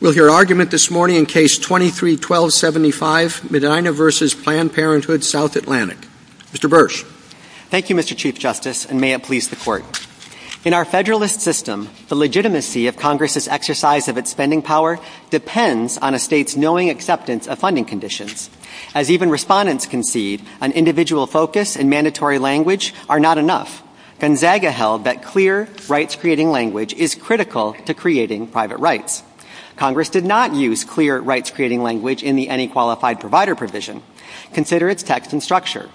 We'll hear an argument this morning in Case 23-1275, Medina v. Planned Parenthood South Atlantic. Mr. Bursch. Thank you, Mr. Chief Justice, and may it please the Court. In our Federalist system, the legitimacy of Congress's exercise of its spending power depends on a state's knowing acceptance of funding conditions. As even respondents concede, an individual focus and mandatory language are not enough. Gonzaga held that clear, rights-creating language is critical to creating private rights. Congress did not use clear, rights-creating language in the Any Qualified Provider provision. Consider its text and structure.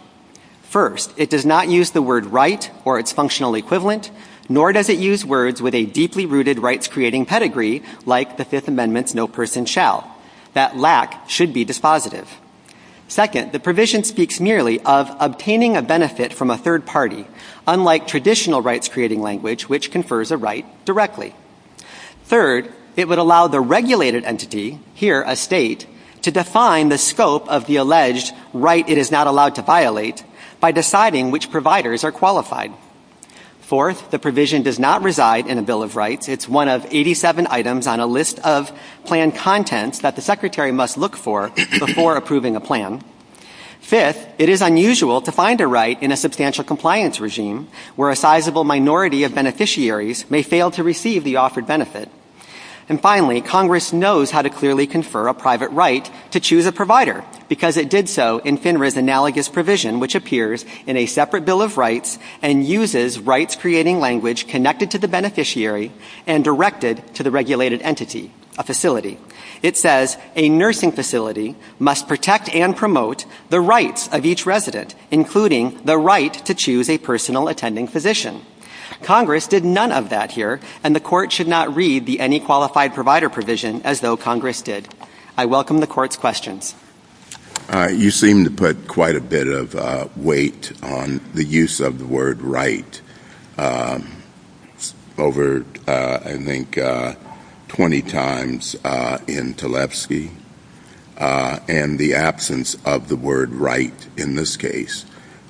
First, it does not use the word right or its functional equivalent, nor does it use words with a deeply-rooted rights-creating pedigree, like the Fifth Amendment's no person shall. That lack should be dispositive. Second, the provision speaks merely of obtaining a benefit from a third party, unlike traditional rights-creating language, which confers a right directly. Third, it would allow the regulated entity, here a state, to define the scope of the alleged right it is not allowed to violate by deciding which providers are qualified. Fourth, the provision does not reside in a Bill of Rights. It's one of 87 items on a list of planned contents that the Secretary must look for before approving a plan. Fifth, it is unusual to find a right in a substantial compliance regime where a sizable minority of beneficiaries may fail to receive the offered benefit. And finally, Congress knows how to clearly confer a private right to choose a provider, because it did so in FINRA's analogous provision, which appears in a separate Bill of Rights and uses rights-creating language connected to the beneficiary and directed to the regulated entity, a facility. It says, a nursing facility must protect and promote the rights of each resident, including the right to choose a personal attending physician. Congress did none of that here, and the Court should not read the Any Qualified Provider provision as though Congress did. I welcome the Court's questions. You seem to put quite a bit of weight on the use of the word right over, I think, 20 times in Tlaibski, and the absence of the word right in this case.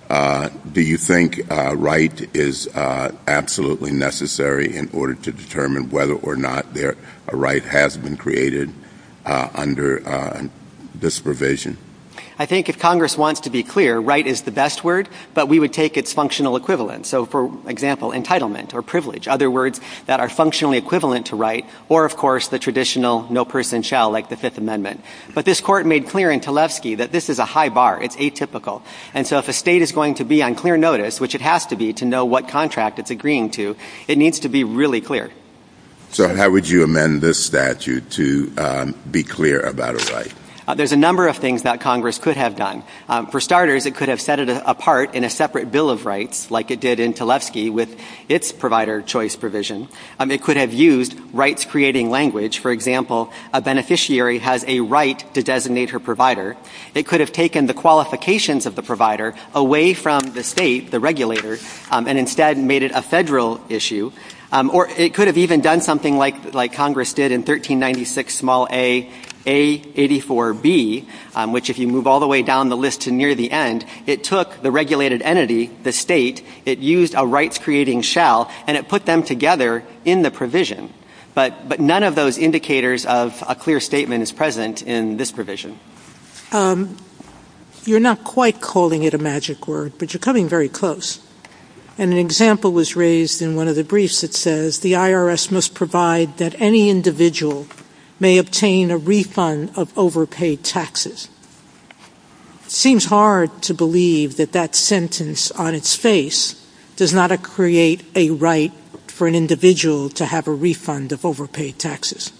Do you think right is absolutely necessary in order to determine whether or not a right has been created under this provision? I think if Congress wants to be clear, right is the best word, but we would take its functional equivalent. So, for example, entitlement or privilege, other words that are functionally equivalent to right, or, of course, the traditional no person shall, like the Fifth Amendment. But this Court made clear in Tlaibski that this is a high bar, it's atypical. And so if a state is going to be on clear notice, which it has to be to know what contract it's agreeing to, it needs to be really clear. So how would you amend this statute to be clear about a right? There's a number of things that Congress could have done. For starters, it could have set it apart in a separate bill of rights, like it did in Tlaibski with its Provider Choice provision. It could have used rights-creating language. For example, a beneficiary has a right to designate her provider. It could have taken the qualifications of the provider away from the state, the regulator, and instead made it a federal issue. Or it could have even done something like Congress did in 1396, small a, A84B, which if you move all the way down the list to near the end, it took the regulated entity, the state, it used a rights-creating shell, and it put them together in the provision. But none of those indicators of a clear statement is present in this provision. You're not quite calling it a magic word, but you're coming very close. And an example was raised in one of the briefs that says, the IRS must provide that any individual may obtain a refund of overpaid taxes. Seems hard to believe that that sentence on its face does not create a right for an individual to have a refund of overpaid taxes.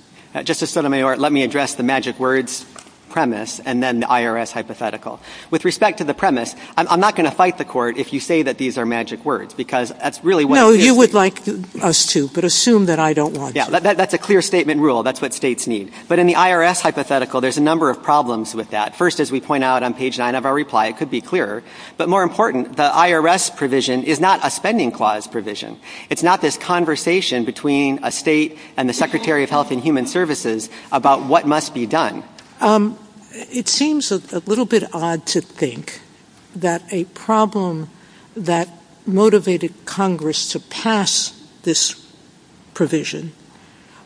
Justice Sotomayor, let me address the magic words premise and then the IRS hypothetical. With respect to the premise, I'm not going to fight the court if you say that these are magic words. No, you would like us to, but assume that I don't want to. Yeah, that's a clear statement rule. That's what states need. But in the IRS hypothetical, there's a number of problems with that. First, as we point out on page nine of our reply, it could be clearer. But more important, the IRS provision is not a spending clause provision. It's not this conversation between a state and the Secretary of Health and Human Services about what must be done. It seems a little bit odd to think that a problem that motivated Congress to pass this provision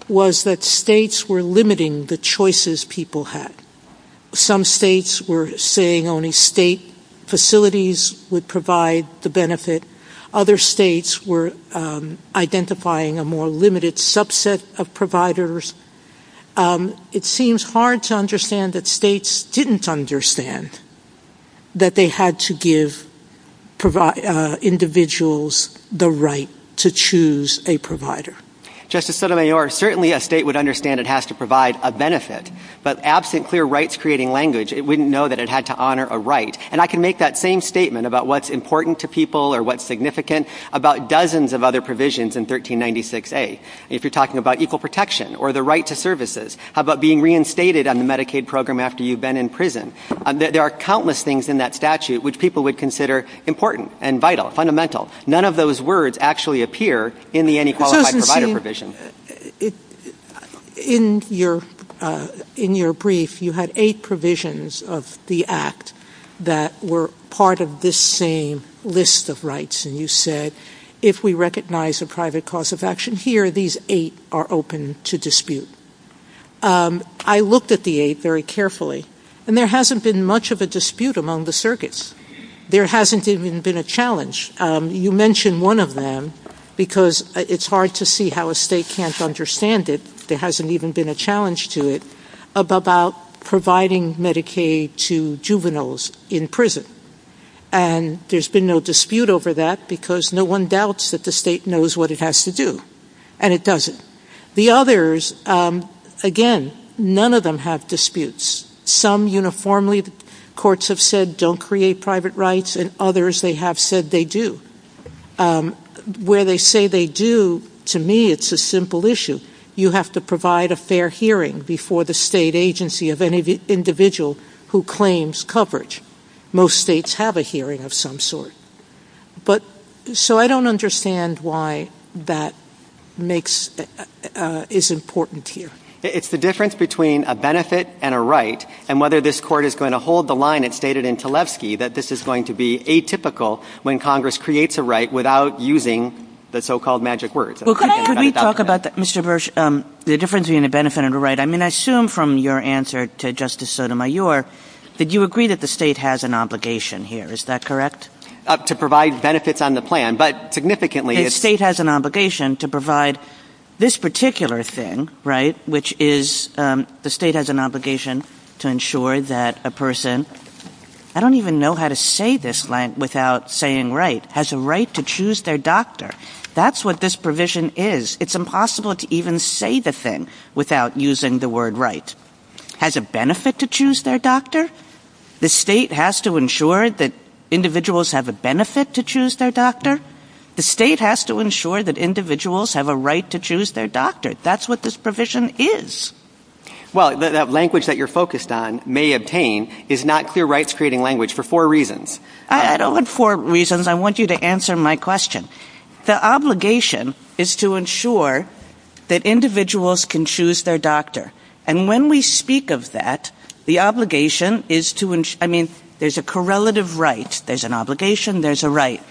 was that states were limiting the choices people had. Some states were saying only state facilities would provide the benefit. Other states were identifying a more limited subset of providers. It seems hard to understand that states didn't understand that they had to give individuals the right to choose a provider. Justice Sotomayor, certainly a state would understand it has to provide a benefit. But absent clear rights-creating language, it wouldn't know that it had to honor a right. And I can make that same statement about what's important to people or what's significant about dozens of other provisions in 1396A. If you're talking about equal protection or the right to services, how about being reinstated on the Medicaid program after you've been in prison? There are countless things in that statute which people would consider important and vital, fundamental. None of those words actually appear in the anti-qualified provider provision. In your brief, you had eight provisions of the Act that were part of this same list of provisions. And you said, if we recognize a private cause of action here, these eight are open to dispute. I looked at the eight very carefully, and there hasn't been much of a dispute among the circuits. There hasn't even been a challenge. You mentioned one of them because it's hard to see how a state can't understand it. There hasn't even been a challenge to it about providing Medicaid to juveniles in prison. And there's been no dispute over that because no one doubts that the state knows what it has to do. And it doesn't. The others, again, none of them have disputes. Some uniformly, courts have said, don't create private rights, and others, they have said they do. Where they say they do, to me, it's a simple issue. You have to provide a fair hearing before the state agency of any individual who claims coverage. Most states have a hearing of some sort. So I don't understand why that is important here. It's the difference between a benefit and a right, and whether this court is going to hold the line, as stated in Talevsky, that this is going to be atypical when Congress creates a right without using the so-called magic words. Could we talk about that, Mr. Birch, the difference between a benefit and a right? I mean, I assume from your answer to Justice Sotomayor, that you agree that the state has an obligation here. Is that correct? To provide benefits on the plan. But significantly... The state has an obligation to provide this particular thing, right, which is, the state has an obligation to ensure that a person, I don't even know how to say this without saying right, has a right to choose their doctor. That's what this provision is. It's impossible to even say the thing without using the word right. Has a benefit to choose their doctor? The state has to ensure that individuals have a benefit to choose their doctor? The state has to ensure that individuals have a right to choose their doctor. That's what this provision is. Well, that language that you're focused on, may obtain, is not clear rights creating language for four reasons. I don't want four reasons. I want you to answer my question. The obligation is to ensure that individuals can choose their doctor. And when we speak of that, the obligation is to, I mean, there's a correlative right. There's an obligation. There's a right.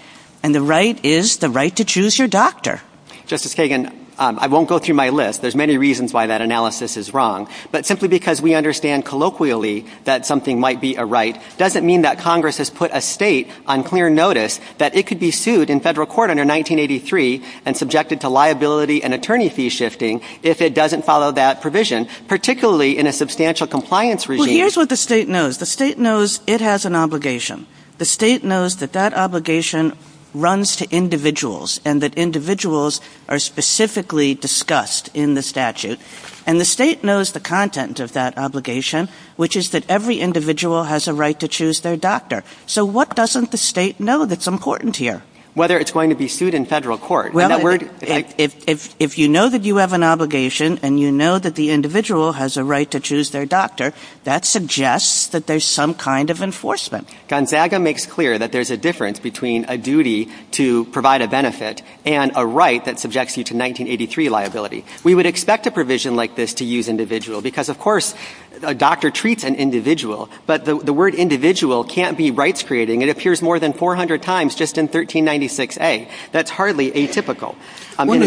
And the right is the right to choose your doctor. Justice Kagan, I won't go through my list. There's many reasons why that analysis is wrong. But simply because we understand colloquially that something might be a right, doesn't mean that Congress has put a state on clear notice that it could be sued in federal court under 1983 and subjected to liability and attorney fee shifting if it doesn't follow that provision, particularly in a substantial compliance regime. Well, here's what the state knows. The state knows it has an obligation. The state knows that that obligation runs to individuals and that individuals are specifically discussed in the statute. And the state knows the content of that obligation, which is that every individual has a right to choose their doctor. So what doesn't the state know that's important here? Whether it's going to be sued in federal court. If you know that you have an obligation and you know that the individual has a right to choose their doctor, that suggests that there's some kind of enforcement. Gonzaga makes clear that there's a difference between a duty to provide a benefit and a right that subjects you to 1983 liability. We would expect a provision like this to use individual because, of course, a doctor treats an individual. But the word individual can't be rights creating. It appears more than 400 times just in 1396A. That's hardly atypical. One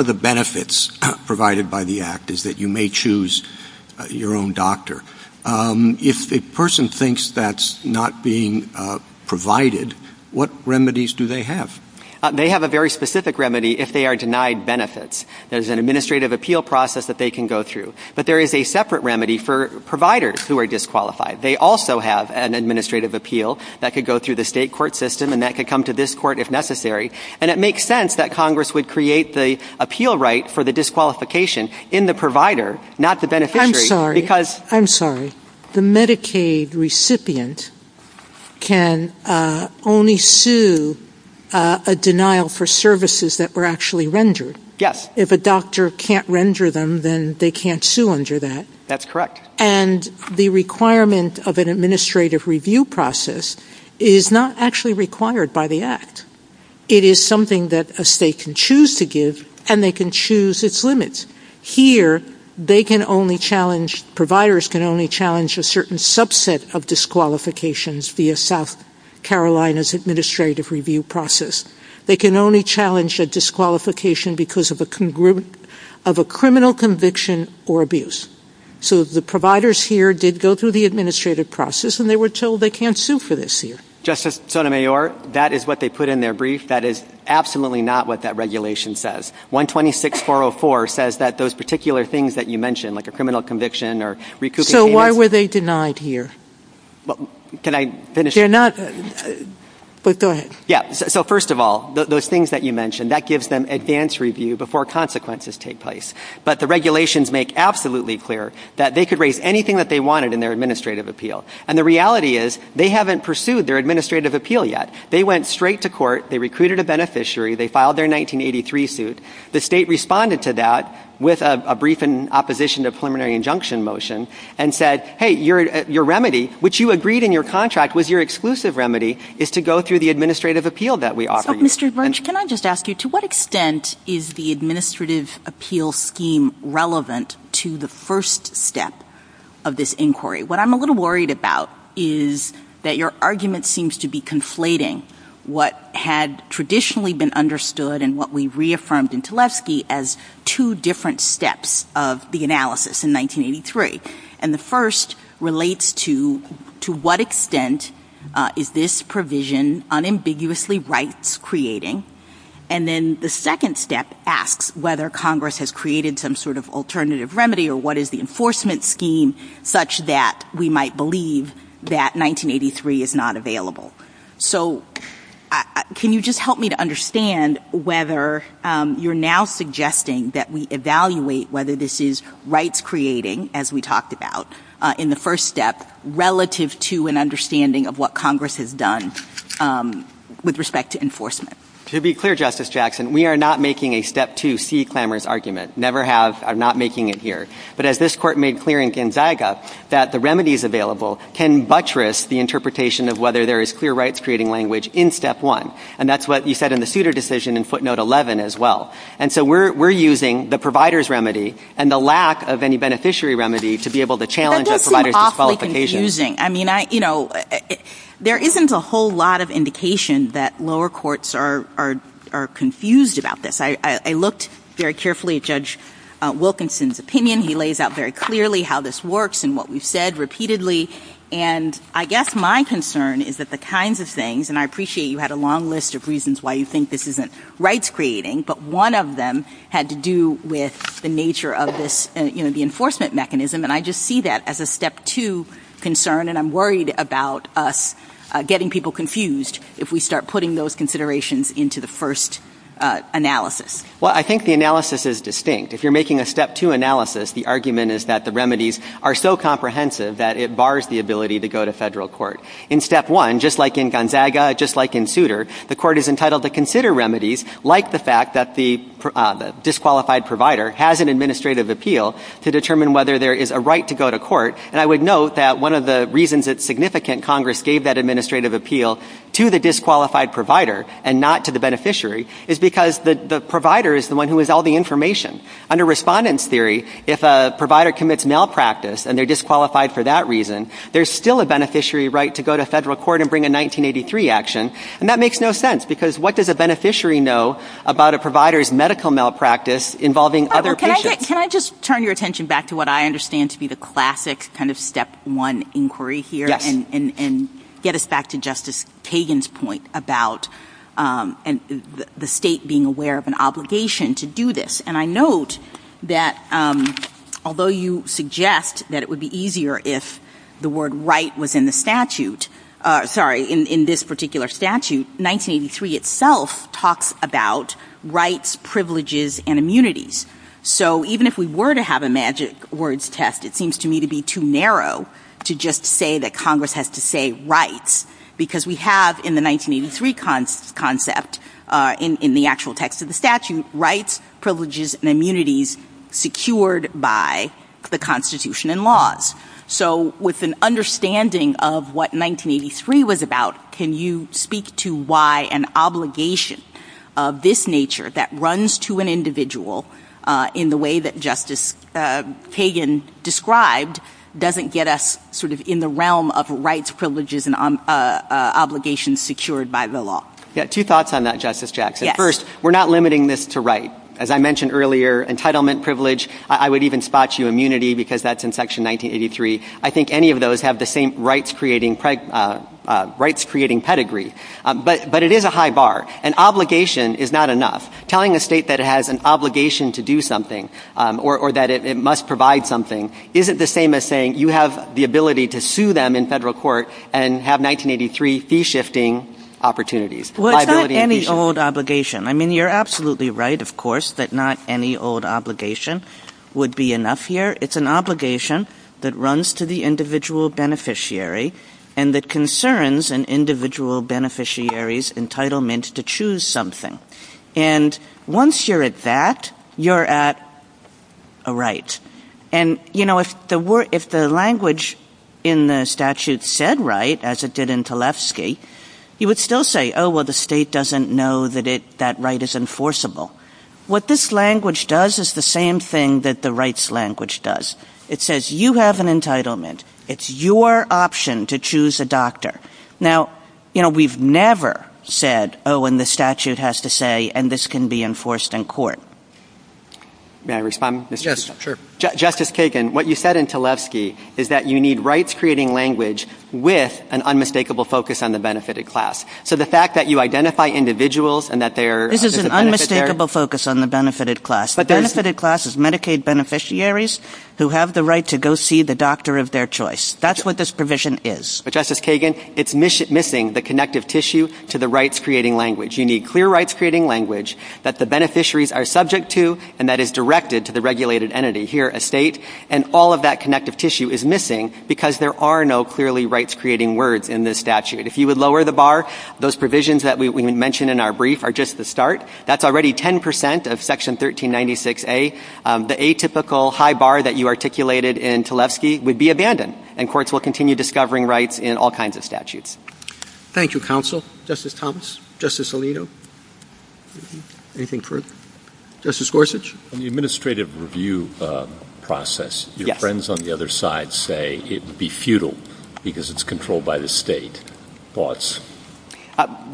of the benefits provided by the act is that you may choose your own doctor. If a person thinks that's not being provided, what remedies do they have? They have a very specific remedy if they are denied benefits. There's an administrative appeal process that they can go through. There is a separate remedy for providers who are disqualified. They also have an administrative appeal that could go through the state court system and that could come to this court if necessary. It makes sense that Congress would create the appeal right for the disqualification in the provider, not the beneficiary. I'm sorry. The Medicaid recipient can only sue a denial for services that were actually rendered. Yes. If a doctor can't render them, then they can't sue under that. That's correct. And the requirement of an administrative review process is not actually required by the act. It is something that a state can choose to give and they can choose its limits. Here they can only challenge, providers can only challenge a certain subset of disqualifications via South Carolina's administrative review process. They can only challenge a disqualification because of a criminal conviction or abuse. So the providers here did go through the administrative process and they were told they can't sue for this here. Justice Sotomayor, that is what they put in their brief. That is absolutely not what that regulation says. 126-404 says that those particular things that you mentioned, like a criminal conviction or recouping payments. So why were they denied here? Can I finish? They're not. But go ahead. Yeah. So first of all, those things that you mentioned, that gives them advance review before consequences take place. But the regulations make absolutely clear that they could raise anything that they wanted in their administrative appeal. And the reality is, they haven't pursued their administrative appeal yet. They went straight to court, they recruited a beneficiary, they filed their 1983 suit. The state responded to that with a brief in opposition to preliminary injunction motion and said, hey, your remedy, which you agreed in your contract was your exclusive remedy, is to go through the administrative appeal that we offer you. Mr. Grunge, can I just ask you, to what extent is the administrative appeal scheme relevant to the first step of this inquiry? What I'm a little worried about is that your argument seems to be conflating what had traditionally been understood and what we reaffirmed in Tlefsky as two different steps of the analysis in 1983. And the first relates to, to what extent is this provision unambiguously rights creating? And then the second step asks whether Congress has created some sort of alternative remedy or what is the enforcement scheme such that we might believe that 1983 is not available. So can you just help me to understand whether you're now suggesting that we evaluate whether this is rights creating, as we talked about in the first step, relative to an understanding of what Congress has done with respect to enforcement? To be clear, Justice Jackson, we are not making a step two C clamors argument. Never have. I'm not making it here. But as this court made clear in Gonzaga, that the remedies available can buttress the interpretation of whether there is clear rights creating language in step one. And that's what you said in the Souter decision in footnote 11 as well. And so we're using the provider's remedy and the lack of any beneficiary remedy to be able to challenge that provider's disqualification. That does seem awfully confusing. I mean, I, you know, there isn't a whole lot of indication that lower courts are confused about this. I looked very carefully at Judge Wilkinson's opinion. He lays out very clearly how this works and what we've said repeatedly. And I guess my concern is that the kinds of things, and I appreciate you had a long list of reasons why you think this isn't rights creating, but one of them had to do with the nature of this, you know, the enforcement mechanism. And I just see that as a step two concern. And I'm worried about us getting people confused if we start putting those considerations into the first analysis. Well, I think the analysis is distinct. If you're making a step two analysis, the argument is that the remedies are so comprehensive that it bars the ability to go to federal court. In step one, just like in Gonzaga, just like in Souter, the court is entitled to consider remedies like the fact that the disqualified provider has an administrative appeal to determine whether there is a right to go to court. And I would note that one of the reasons it's significant Congress gave that administrative appeal to the disqualified provider and not to the beneficiary is because the provider is the one who has all the information. Under respondent's theory, if a provider commits malpractice and they're disqualified for that reason, there's still a beneficiary right to go to federal court and bring a 1983 action. And that makes no sense because what does a beneficiary know about a provider's medical malpractice involving other patients? Can I just turn your attention back to what I understand to be the classic kind of step one inquiry here and get us back to Justice Kagan's point about the state being aware of an obligation to do this. And I note that although you suggest that it would be easier if the word right was in the statute, sorry, in this particular statute, 1983 itself talks about rights, privileges, and immunities. So even if we were to have a magic words test, it seems to me to be too narrow to just say that Congress has to say rights because we have in the 1983 concept in the actual text of the statute rights, privileges, and immunities secured by the Constitution and laws. So with an understanding of what 1983 was about, can you speak to why an obligation of this nature that runs to an individual in the way that Justice Kagan described doesn't get us sort of in the realm of rights, privileges, and obligations secured by the law? Yeah, two thoughts on that, Justice Jackson. First, we're not limiting this to right. As I mentioned earlier, entitlement, privilege, I would even spot you immunity because that's in Section 1983. I think any of those have the same rights-creating pedigree, but it is a high bar. An obligation is not enough. Telling a state that it has an obligation to do something or that it must provide something isn't the same as saying you have the ability to sue them in federal court and have 1983 fee-shifting opportunities. Well, it's not any old obligation. I mean, you're absolutely right, of course, that not any old obligation would be enough here. It's an obligation that runs to the individual beneficiary and that concerns an individual beneficiary's entitlement to choose something. And once you're at that, you're at a right. And you know, if the language in the statute said right, as it did in Tlefsky, you would still say, oh, well, the state doesn't know that that right is enforceable. What this language does is the same thing that the rights language does. It says you have an entitlement. It's your option to choose a doctor. Now, you know, we've never said, oh, and the statute has to say, and this can be enforced in court. May I respond? Yes, sure. Justice Kagan, what you said in Tlefsky is that you need rights-creating language with an unmistakable focus on the benefitted class. So the fact that you identify individuals and that they're... This is an unmistakable focus on the benefitted class. The benefitted class is Medicaid beneficiaries who have the right to go see the doctor of their choice. That's what this provision is. But, Justice Kagan, it's missing the connective tissue to the rights-creating language. You need clear rights-creating language that the beneficiaries are subject to and that is directed to the regulated entity here at state, and all of that connective tissue is missing because there are no clearly rights-creating words in this statute. If you would lower the bar, those provisions that we would mention in our brief are just the start. That's already 10 percent of Section 1396A. The atypical high bar that you articulated in Tlefsky would be abandoned, and courts will continue discovering rights in all kinds of statutes. Thank you, counsel. Justice Thomas, Justice Alito, anything further? Justice Gorsuch? In the administrative review process, your friends on the other side say it would be futile because it's controlled by the state. Thoughts?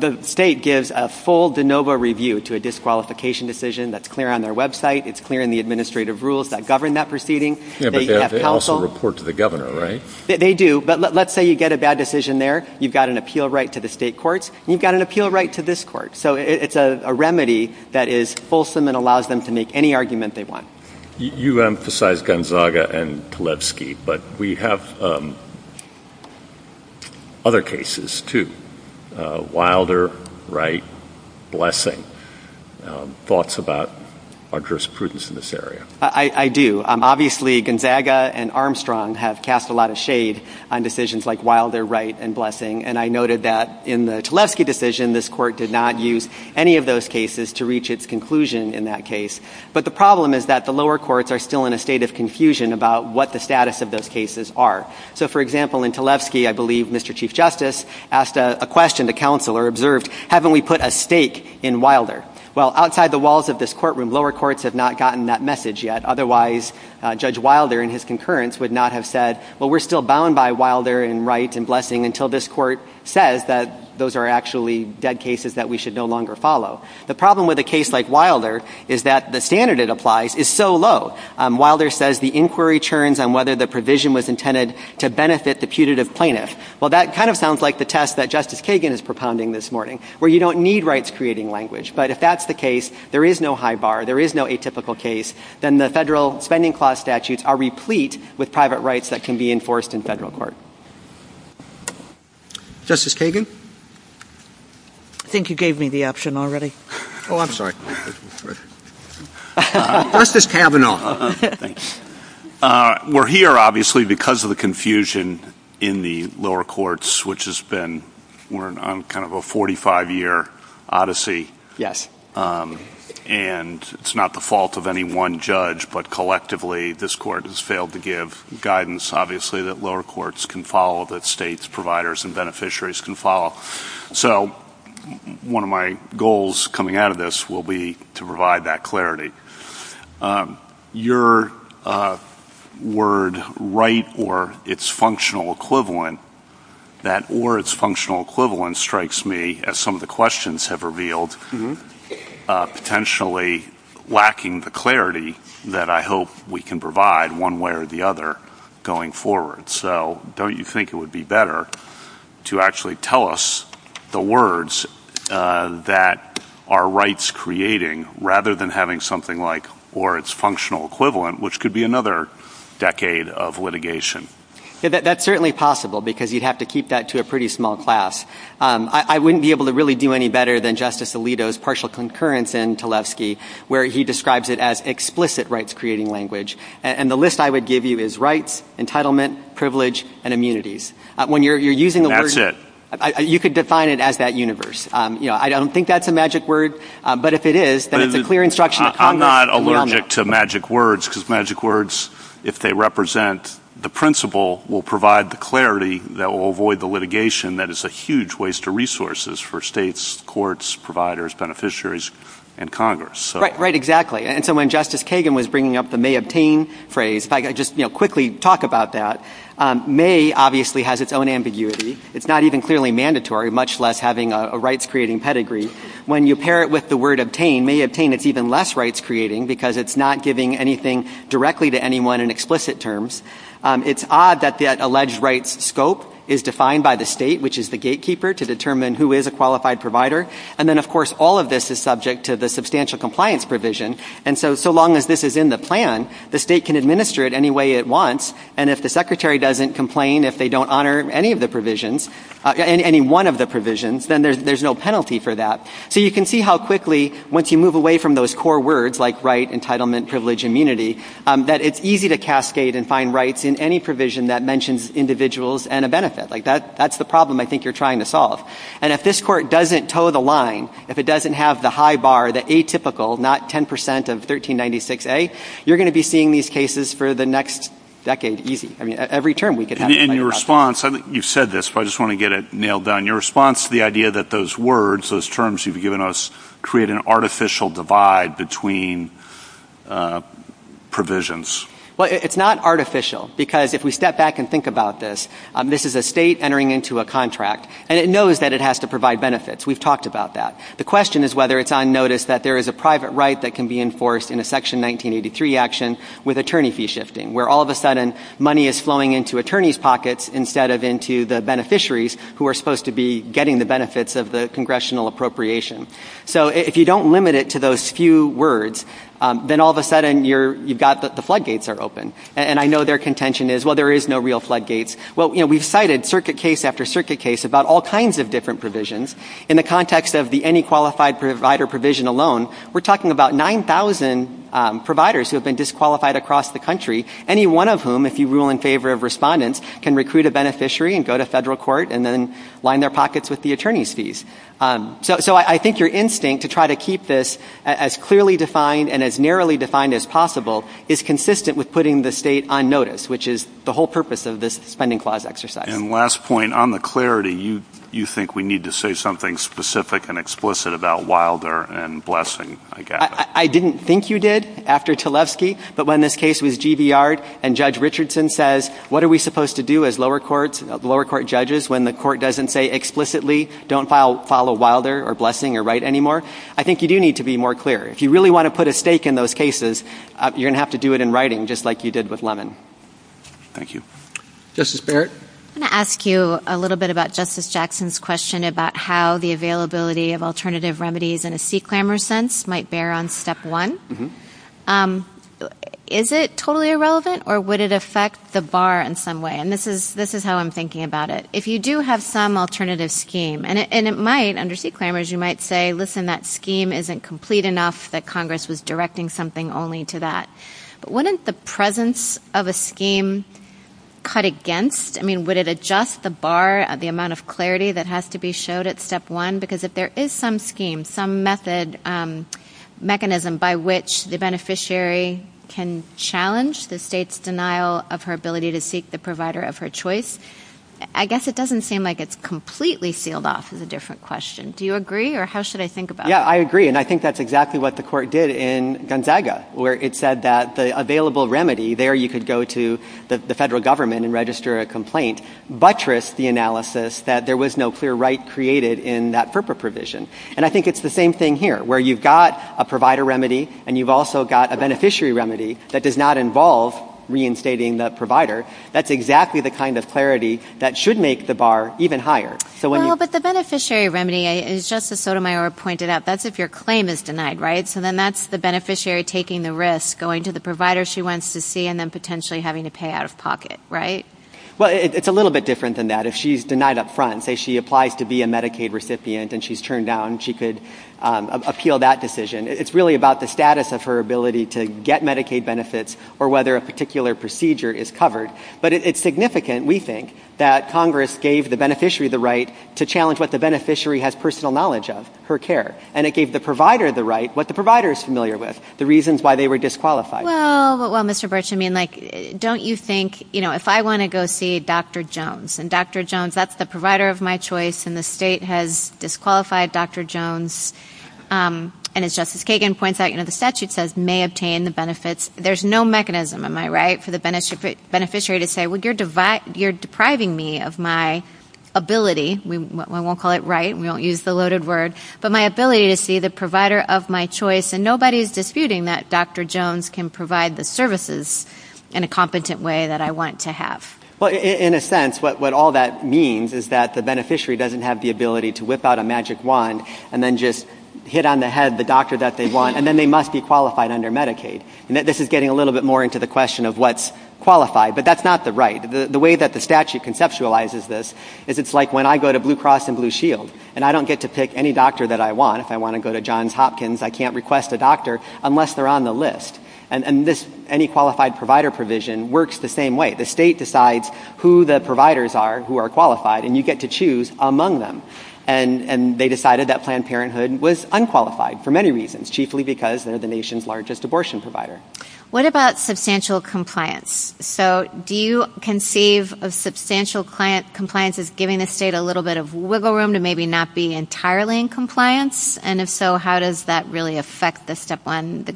The state gives a full de novo review to a disqualification decision that's clear on their website. It's clear in the administrative rules that govern that proceeding. Yeah, but they also report to the governor, right? They do, but let's say you get a bad decision there. You've got an appeal right to the state courts, and you've got an appeal right to this court. So it's a remedy that is fulsome and allows them to make any argument they want. You emphasize Gonzaga and Tlefsky, but we have other cases, too, Wilder, Wright, Blessing. Thoughts about our jurisprudence in this area? I do. Obviously, Gonzaga and Armstrong have cast a lot of shade on decisions like Wilder, Wright, and Blessing. And I noted that in the Tlefsky decision, this court did not use any of those cases to reach its conclusion in that case. But the problem is that the lower courts are still in a state of confusion about what the status of those cases are. So, for example, in Tlefsky, I believe Mr. Chief Justice asked a question. The counselor observed, haven't we put a stake in Wilder? Well, outside the walls of this courtroom, lower courts have not gotten that message yet. Otherwise, Judge Wilder and his concurrence would not have said, well, we're still bound by Wilder and Wright and Blessing until this court says that those are actually dead cases that we should no longer follow. The problem with a case like Wilder is that the standard it applies is so low. Wilder says the inquiry churns on whether the provision was intended to benefit the putative plaintiff. Well, that kind of sounds like the test that Justice Kagan is propounding this morning, where you don't need rights-creating language. But if that's the case, there is no high bar, there is no atypical case, then the federal spending clause statutes are replete with private rights that can be enforced in federal court. Justice Kagan? I think you gave me the option already. Oh, I'm sorry. Justice Kavanaugh. We're here, obviously, because of the confusion in the lower courts, which has been kind of a 45-year odyssey. Yes. And it's not the fault of any one judge, but collectively this court has failed to give guidance, obviously, that lower courts can follow, that states, providers, and beneficiaries can follow. So one of my goals coming out of this will be to provide that clarity. Your word, right, or its functional equivalent, that or its functional equivalent strikes me as some of the questions have revealed potentially lacking the clarity that I hope we can provide one way or the other going forward. So don't you think it would be better to actually tell us the words that are rights-creating rather than having something like or its functional equivalent, which could be another decade of litigation? That's certainly possible, because you'd have to keep that to a pretty small class. I wouldn't be able to really do any better than Justice Alito's partial concurrence in Tlaibsky, where he describes it as explicit rights-creating language. And the list I would give you is rights, entitlement, privilege, and immunities. When you're using the word... That's it. You could define it as that universe. I don't think that's a magic word, but if it is, then it's a clear instruction... I'm not allergic to magic words, because magic words, if they represent the principle, will provide the clarity that will avoid the litigation that is a huge waste of resources for states, courts, providers, beneficiaries, and Congress. Right, exactly. And so when Justice Kagan was bringing up the may obtain phrase, if I could just quickly talk about that, may obviously has its own ambiguity. It's not even clearly mandatory, much less having a rights-creating pedigree. When you pair it with the word obtain, may obtain is even less rights-creating, because it's not giving anything directly to anyone in explicit terms. It's odd that the alleged rights scope is defined by the state, which is the gatekeeper, to determine who is a qualified provider. And then, of course, all of this is subject to the substantial compliance provision. And so, so long as this is in the plan, the state can administer it any way it wants. And if the secretary doesn't complain if they don't honor any of the provisions, any one of the provisions, then there's no penalty for that. So you can see how quickly, once you move away from those core words, like right, entitlement, privilege, immunity, that it's easy to cascade and find rights in any provision that mentions individuals and a benefit. Like that's the problem I think you're trying to solve. And if this court doesn't toe the line, if it doesn't have the high bar, the atypical, not 10% of 1396A, you're going to be seeing these cases for the next decade easy. I mean, every term we could have. And your response, you said this, but I just want to get it nailed down. Your response to the idea that those words, those terms you've given us, create an artificial divide between provisions. Well, it's not artificial because if we step back and think about this, this is a state entering into a contract and it knows that it has to provide benefits. We've talked about that. The question is whether it's on notice that there is a private right that can be enforced in a section 1983 action with attorney fee shifting, where all of a sudden money is flowing into attorney's pockets instead of into the beneficiaries who are supposed to be getting the benefits of the congressional appropriation. So if you don't limit it to those few words, then all of a sudden you've got the flood gates are open. And I know their contention is, well, there is no real flood gates. Well, we've cited circuit case after circuit case about all kinds of different provisions. In the context of the any qualified provider provision alone, we're talking about 9,000 providers who have been disqualified across the country, any one of whom, if you rule in favor of respondents, can recruit a beneficiary and go to federal court and then line their pockets with the attorney's fees. So I think your instinct to try to keep this as clearly defined and as narrowly defined as possible is consistent with putting the state on notice, which is the whole purpose of this spending clause exercise. And last point, on the clarity, you think we need to say something specific and explicit about Wilder and Blessing, I guess. I didn't think you did after Tlaibsky, but when this case was GBR'd and Judge Richardson says, what are we supposed to do as lower court judges when the court doesn't say explicitly don't follow Wilder or Blessing or Wright anymore? I think you do need to be more clear. If you really want to put a stake in those cases, you're going to have to do it in writing just like you did with Lemon. Thank you. Justice Barrett? I'm going to ask you a little bit about Justice Jackson's question about how the availability of alternative remedies in a C-Clamor sense might bear on step one. Is it totally irrelevant or would it affect the bar in some way? And this is how I'm thinking about it. If you do have some alternative scheme, and it might, under C-Clamors, you might say, listen, that scheme isn't complete enough, that Congress was directing something only to that. But wouldn't the presence of a scheme cut against, I mean, would it adjust the bar, the amount of clarity that has to be showed at step one? Because if there is some scheme, some method, mechanism by which the beneficiary can challenge the state's denial of her ability to seek the provider of her choice, I guess it doesn't seem like it's completely sealed off is a different question. Do you agree? Or how should I think about it? Yeah, I agree. And I think that's exactly what the court did in Gonzaga, where it said that the available remedy there, you could go to the federal government and register a complaint, buttressed the analysis that there was no clear right created in that FERPA provision. And I think it's the same thing here, where you've got a provider remedy, and you've also got a beneficiary remedy that does not involve reinstating the provider. That's exactly the kind of clarity that should make the bar even higher. No, but the beneficiary remedy is, just as Sotomayor pointed out, that's if your claim is denied, right? So then that's the beneficiary taking the risk, going to the provider she wants to see, and then potentially having to pay out of pocket, right? Well, it's a little bit different than that. If she's denied up front, say she applies to be a Medicaid recipient, and she's turned down, she could appeal that decision. It's really about the status of her ability to get Medicaid benefits, or whether a particular procedure is covered. But it's significant, we think, that Congress gave the beneficiary the right to challenge what the beneficiary has personal knowledge of, her care. And it gave the provider the right, what the provider is familiar with, the reasons why they were disqualified. Well, Mr. Burch, I mean, like, don't you think, you know, if I want to go see Dr. Jones, and Dr. Jones, that's the provider of my choice, and the state has disqualified Dr. Jones, and as Justice Kagan points out, you know, the statute says, may obtain the benefits. There's no mechanism, am I right, for the beneficiary to say, well, you're depriving me of my ability, we won't call it right, we won't use the loaded word, but my ability to see the provider of my choice, and nobody's disputing that Dr. Jones can provide the services in a competent way that I want to have. Well, in a sense, what all that means is that the beneficiary doesn't have the ability to whip out a magic wand, and then just hit on the head the doctor that they want, and then they must be qualified under Medicaid, and this is getting a little bit more into the question of what's qualified, but that's not the right, the way that the statute conceptualizes this, is it's like when I go to Blue Cross and Blue Shield, and I don't get to pick any doctor that I want, if I want to go to Johns Hopkins, I can't request a doctor unless they're on the list, and this, any qualified provider provision works the same way, the state decides who the providers are who are qualified, and you get to choose among them, and they decided that Planned Parenthood was unqualified for many reasons, chiefly because they're the nation's largest abortion provider. What about substantial compliance? So, do you conceive of substantial compliance as giving the state a little bit of wiggle room to maybe not be entirely in compliance, and if so, how does that really affect the step on the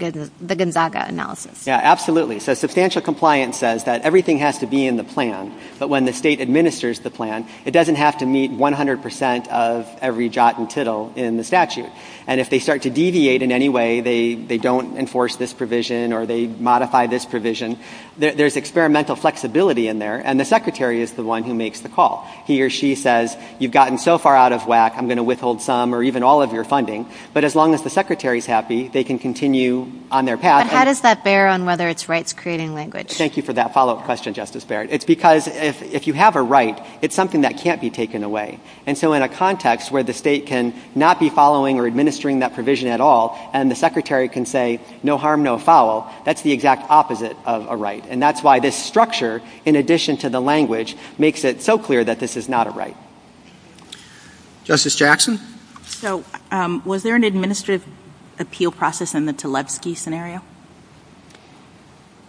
Gonzaga analysis? Yeah, absolutely. So, substantial compliance says that everything has to be in the plan, but when the state administers the plan, it doesn't have to meet 100% of every jot and tittle in the statute, and if they start to deviate in any way, they don't enforce this provision, or they modify this provision, there's experimental flexibility in there, and the secretary is the one who makes the call. He or she says, you've gotten so far out of whack, I'm going to withhold some or even all of your funding, but as long as the secretary's happy, they can continue on their path. How does that bear on whether it's rights creating language? Thank you for that follow-up question, Justice Barrett. It's because if you have a right, it's something that can't be taken away, and so in a context where the state can not be following or administering that provision at all, and the secretary can say, no harm, no foul, that's the exact opposite of a right, and that's why this structure, in addition to the language, makes it so clear that this is not a right. Justice Jackson? So was there an administrative appeal process in the Tlebsky scenario?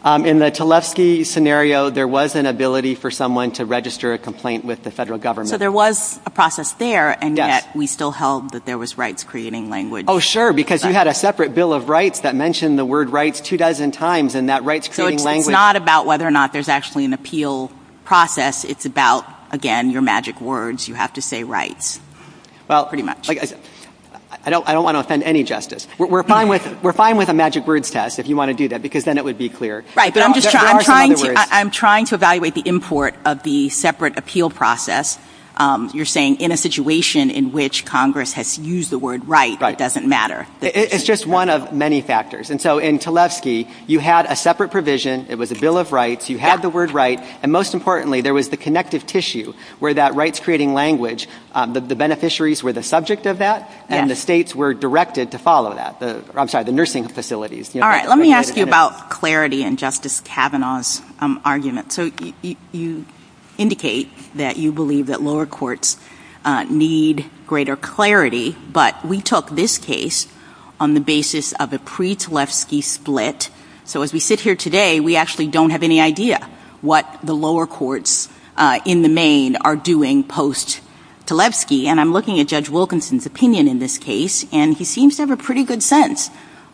In the Tlebsky scenario, there was an ability for someone to register a complaint with the federal government. So there was a process there, and yet we still held that there was rights creating language. Oh, sure, because you had a separate bill of rights that mentioned the word rights two dozen times, and that rights creating language... It's not about whether or not there's actually an appeal process. It's about, again, your magic words. You have to say rights. Well, I don't want to offend any justice. We're fine with a magic words test, if you want to do that, because then it would be clear. I'm trying to evaluate the import of the separate appeal process. You're saying in a situation in which Congress has used the word right, it doesn't matter. It's just one of many factors, and so in Tlebsky, you had a separate provision. It was a bill of rights. You had the word right, and most importantly, there was the connective tissue where that rights creating language, the beneficiaries were the subject of that, and the states were directed to follow that. I'm sorry, the nursing facilities. All right, let me ask you about clarity in Justice Kavanaugh's argument. So you indicate that you believe that lower courts need greater clarity, but we took this case on the basis of a pre-Tlebsky split. So as we sit here today, we actually don't have any idea what the lower courts in the state are doing post-Tlebsky, and I'm looking at Judge Wilkinson's opinion in this case, and he seems to have a pretty good sense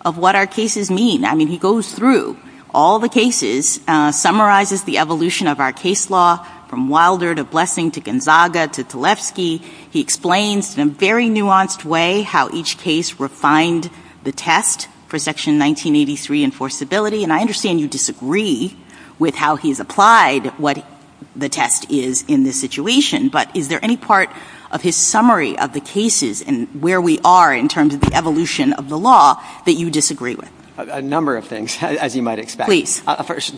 of what our cases mean. I mean, he goes through all the cases, summarizes the evolution of our case law from Wilder to Blessing to Gonzaga to Tlebsky. He explains in a very nuanced way how each case refined the test for Section 1983 enforceability, and I understand you disagree with how he's applied what the test is in this situation, but is there any part of his summary of the cases and where we are in terms of the evolution of the law that you disagree with? A number of things, as you might expect.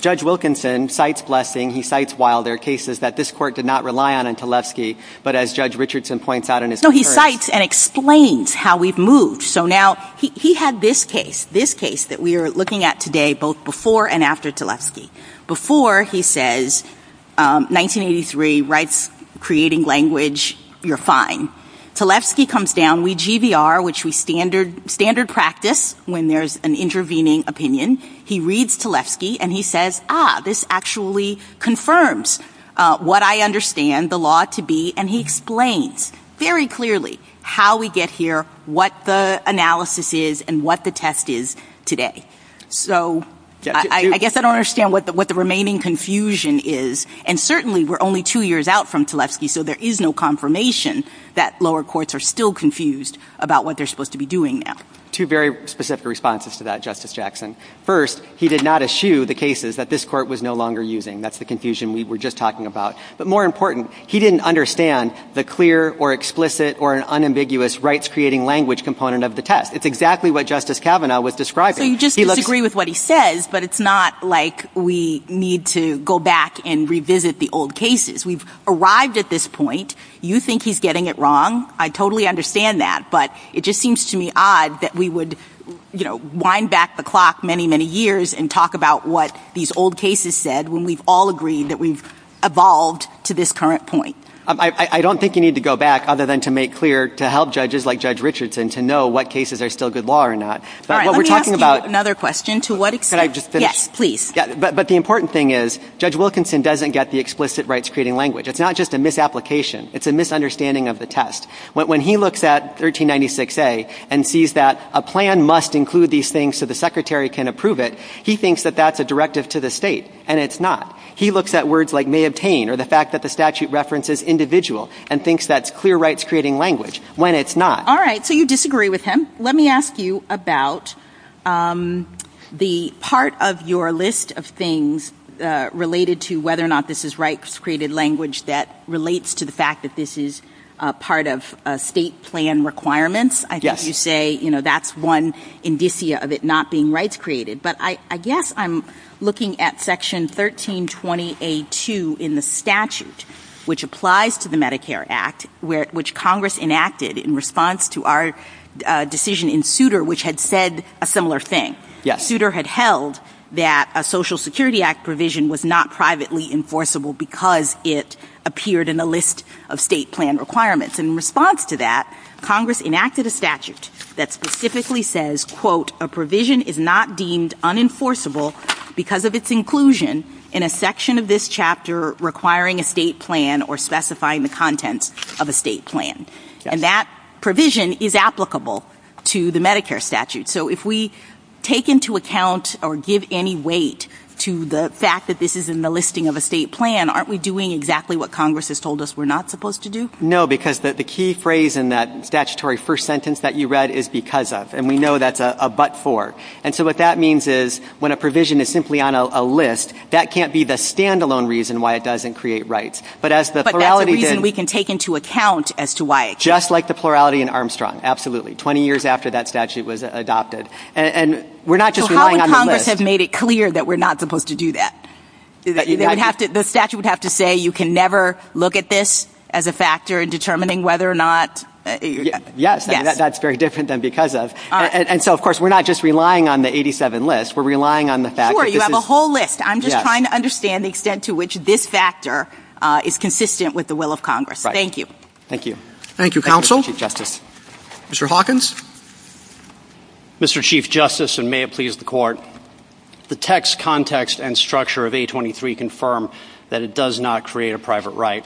Judge Wilkinson cites Blessing. He cites Wilder cases that this court did not rely on in Tlebsky, but as Judge Richardson points out in his... No, he cites and explains how we've moved. So now, he had this case, this case that we are looking at today, both before and after Tlebsky. Before, he says, 1983 writes, creating language, you're fine. Tlebsky comes down, we GVR, which we standard practice when there's an intervening opinion. He reads Tlebsky, and he says, ah, this actually confirms what I understand the law to be, and he explains very clearly how we get here, what the analysis is, and what the test is today. So I guess I don't understand what the remaining confusion is. And certainly, we're only two years out from Tlebsky, so there is no confirmation that lower courts are still confused about what they're supposed to be doing now. Two very specific responses to that, Justice Jackson. First, he did not eschew the cases that this court was no longer using. That's the confusion we were just talking about. But more important, he didn't understand the clear or explicit or unambiguous rights creating language component of the test. It's exactly what Justice Kavanaugh was describing. So you just disagree with what he says, but it's not like we need to go back and revisit the old cases. We've arrived at this point. You think he's getting it wrong. I totally understand that. But it just seems to me odd that we would, you know, wind back the clock many, many years and talk about what these old cases said when we've all agreed that we've evolved to this current point. I don't think you need to go back, other than to make clear, to help judges like Judge Richardson to know what cases are still good law or not. All right, let me ask you another question. To what extent? Could I just finish? Yes, please. But the important thing is, Judge Wilkinson doesn't get the explicit rights creating language. It's not just a misapplication. It's a misunderstanding of the test. When he looks at 1396A and sees that a plan must include these things so the Secretary can approve it, he thinks that that's a directive to the state, and it's not. He looks at words like may obtain or the fact that the statute references individual and thinks that's clear rights creating language, when it's not. All right, so you disagree with him. Let me ask you about the part of your list of things related to whether or not this is rights created language that relates to the fact that this is part of state plan requirements. I guess you say that's one indicia of it not being rights created. But I guess I'm looking at Section 1320A2 in the statute, which applies to the Medicare Act, which Congress enacted in response to our decision in Souter, which had said a similar thing. Souter had held that a Social Security Act provision was not privately enforceable because it appeared in the list of state plan requirements. In response to that, Congress enacted a statute that specifically says, quote, a provision is not deemed unenforceable because of its inclusion in a section of this chapter requiring a state plan or specifying the contents of a state plan. And that provision is applicable to the Medicare statute. So if we take into account or give any weight to the fact that this is in the listing of a state plan, aren't we doing exactly what Congress has told us we're not supposed to do? No, because the key phrase in that statutory first sentence that you read is because of. And we know that's a but for. And so what that means is when a provision is simply on a list, that can't be the standalone reason why it doesn't create rights. But that's the reason we can take into account as to why. Just like the plurality in Armstrong. Absolutely. 20 years after that statute was adopted. And we're not just relying on the list. Congress has made it clear that we're not supposed to do that. You have to. The statute would have to say you can never look at this as a factor in determining whether or not. Yes, that's very different than because of. And so, of course, we're not just relying on the 87 list. We're relying on the fact that you have a whole list. I'm just trying to understand the extent to which this factor is consistent with the will of Congress. Thank you. Thank you. Thank you, counsel. Mr. Hawkins. Mr. Chief Justice, and may it please the court. The text, context and structure of 823 confirm that it does not create a private right.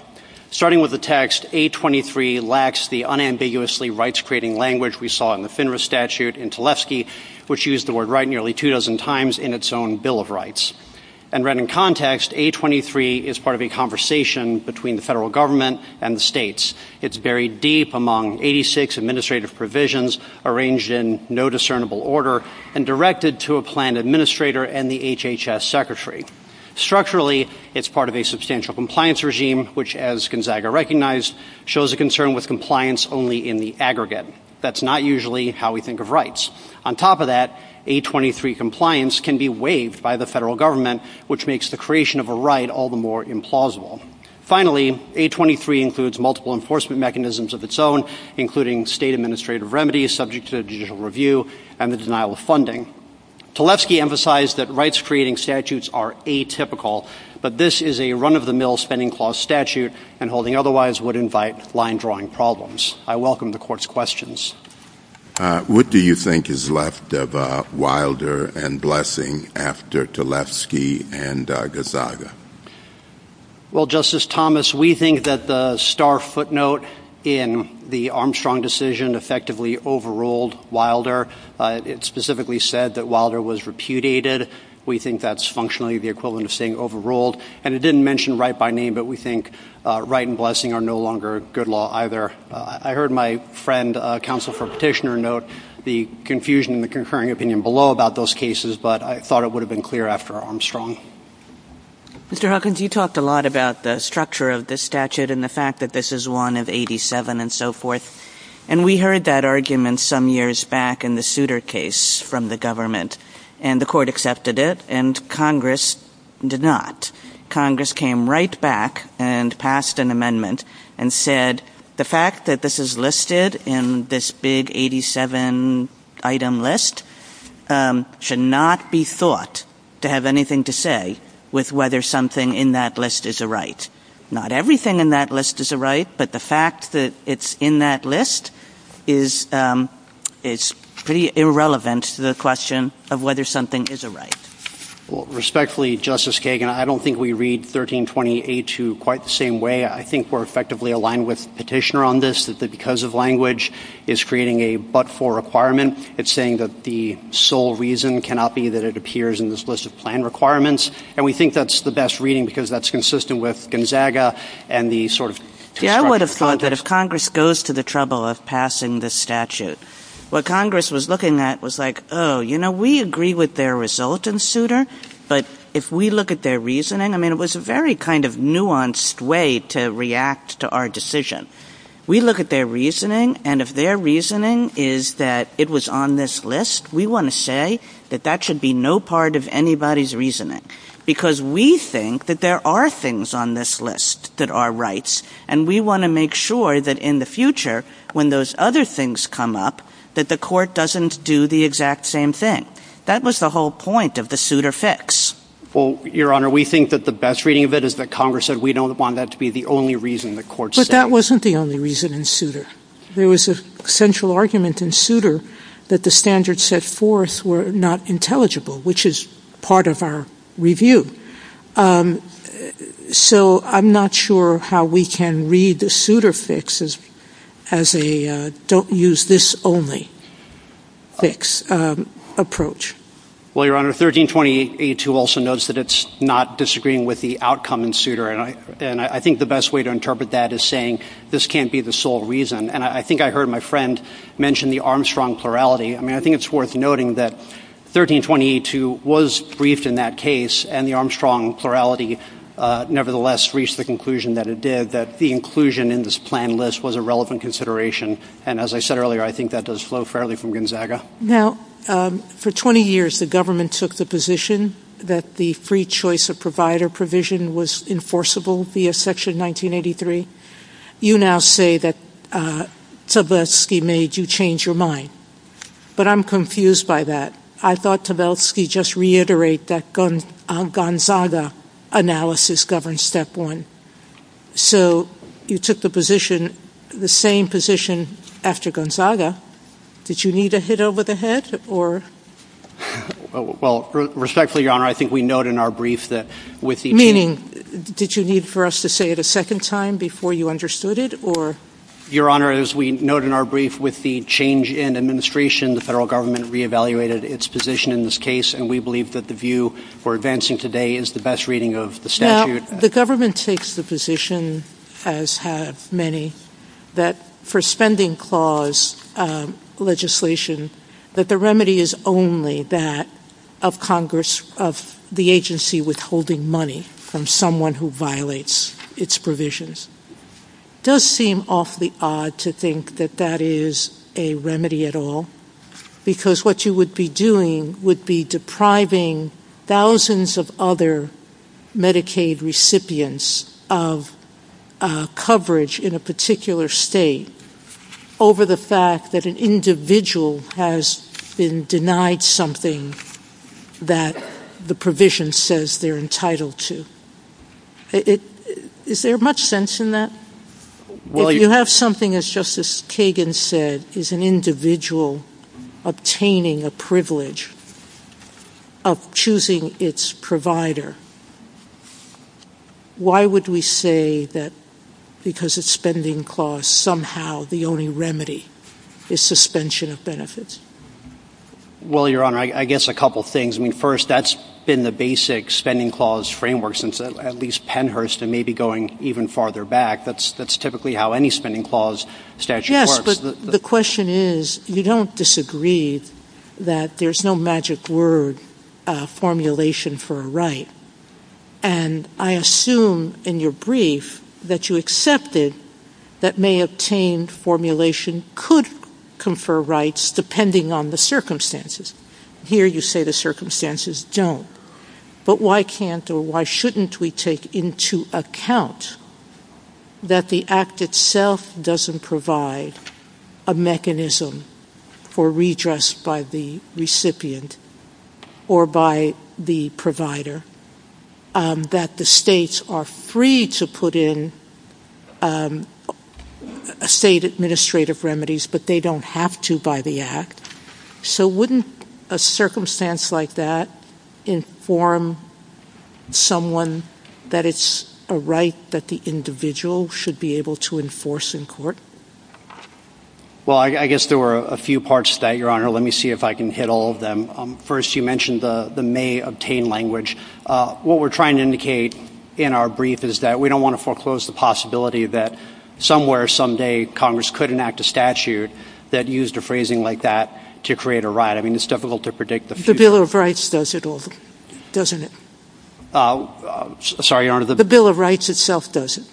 Starting with the text, 823 lacks the unambiguously rights creating language we saw in the FINRA statute in Tlefsky, which used the word right nearly two dozen times in its own Bill of And read in context, 823 is part of a conversation between the federal government and the states. It's buried deep among 86 administrative provisions arranged in no discernible order and directed to a plan administrator and the HHS secretary. Structurally, it's part of a substantial compliance regime, which, as Gonzaga recognized, shows a concern with compliance only in the aggregate. That's not usually how we think of rights. On top of that, 823 compliance can be waived by the federal government, which makes the creation of a right all the more implausible. Finally, 823 includes multiple enforcement mechanisms of its own, including state administrative remedies subject to judicial review and the denial of funding. Tlefsky emphasized that rights creating statutes are atypical, but this is a run-of-the-mill spending clause statute and holding otherwise would invite line-drawing problems. I welcome the court's questions. What do you think is left of Wilder and Blessing after Tlefsky and Gonzaga? Well, Justice Thomas, we think that the star footnote in the Armstrong decision effectively overruled Wilder. It specifically said that Wilder was repudiated. We think that's functionally the equivalent of saying overruled. And it didn't mention right by name, but we think right and Blessing are no longer a good law either. I heard my friend, counsel for Petitioner, note the confusion in the concurring opinion below about those cases, but I thought it would have been clear after Armstrong. Mr. Hawkins, you talked a lot about the structure of the statute and the fact that this is one of 87 and so forth. And we heard that argument some years back in the Souter case from the government and the court accepted it and Congress did not. Congress came right back and passed an amendment and said the fact that this is listed in this big 87 item list should not be thought to have anything to say with whether something in that list is a right. Not everything in that list is a right, but the fact that it's in that list is pretty irrelevant to the question of whether something is a right. Respectfully, Justice Kagan, I don't think we read 1328-2 quite the same way. I think we're effectively aligned with Petitioner on this, that because of language is creating a but-for requirement, it's saying that the sole reason cannot be that it appears in this list of plan requirements. And we think that's the best reading because that's consistent with Gonzaga and the sort of... Yeah, I would have thought that if Congress goes to the trouble of passing the statute, what Congress was looking at was like, oh, you know, we agree with their result in Souter, but if we look at their reasoning, I mean, it was a very kind of nuanced way to react to our decision. We look at their reasoning, and if their reasoning is that it was on this list, we want to say that that should be no part of anybody's reasoning, because we think that there are things on this list that are rights, and we want to make sure that in the future, when those other things come up, that the court doesn't do the exact same thing. That was the whole point of the Souter fix. Well, Your Honor, we think that the best reading of it is that Congress said we don't want that to be the only reason the court said it. That wasn't the only reason in Souter. There was a central argument in Souter that the standards set forth were not intelligible, which is part of our review. So I'm not sure how we can read the Souter fix as a don't use this only fix approach. Well, Your Honor, 1328-2 also notes that it's not disagreeing with the outcome in Souter, and I think the best way to interpret that is saying this can't be the sole reason. And I think I heard my friend mention the Armstrong plurality. I mean, I think it's worth noting that 1328-2 was briefed in that case, and the Armstrong plurality nevertheless reached the conclusion that it did, that the inclusion in this plan list was a relevant consideration. And as I said earlier, I think that does flow fairly from Gonzaga. Now, for 20 years, the government took the position that the free choice of provider provision was enforceable via Section 1983. You now say that Tversky made you change your mind. But I'm confused by that. I thought Tversky just reiterated that Gonzaga analysis governs Step 1. So you took the position, the same position after Gonzaga. Did you need a hit over the head? Or? Well, respectfully, Your Honor, I think we note in our brief that with the— Meaning, did you need for us to say it a second time before you understood it? Or— Your Honor, as we note in our brief, with the change in administration, the federal government re-evaluated its position in this case, and we believe that the view for advancing today is the best reading of the statute. Now, the government takes the position, as have many, that for spending clause legislation, that the remedy is only that of Congress, of the agency withholding money from someone who violates its provisions. It does seem awfully odd to think that that is a remedy at all, because what you would be doing would be depriving thousands of other Medicaid recipients of coverage in a particular state over the fact that an individual has been denied something that the provision says they're entitled to. Is there much sense in that? Well, you— If you have something, as Justice Kagan said, is an individual obtaining a privilege of choosing its provider, why would we say that because it's spending clause, somehow, the only remedy is suspension of benefits? Well, Your Honor, I guess a couple things. I mean, first, that's been the basic spending clause framework since at least Pennhurst and maybe going even farther back. That's typically how any spending clause statute works. The question is, you don't disagree that there's no magic word formulation for a right. And I assume in your brief that you accepted that may-obtained formulation could confer rights depending on the circumstances. Here, you say the circumstances don't. But why can't or why shouldn't we take into account that the Act itself doesn't provide a mechanism for redress by the recipient or by the provider, that the states are free to put in state administrative remedies, but they don't have to by the Act? So wouldn't a circumstance like that inform someone that it's a right that the individual should be able to enforce in court? Well, I guess there were a few parts to that, Your Honor. Let me see if I can hit all of them. First, you mentioned the may-obtained language. What we're trying to indicate in our brief is that we don't want to foreclose the possibility that somewhere, someday, Congress could enact a statute that used a phrasing like that to create a right. I mean, it's difficult to predict the future. The Bill of Rights does it all, doesn't it? Sorry, Your Honor. The Bill of Rights itself does it.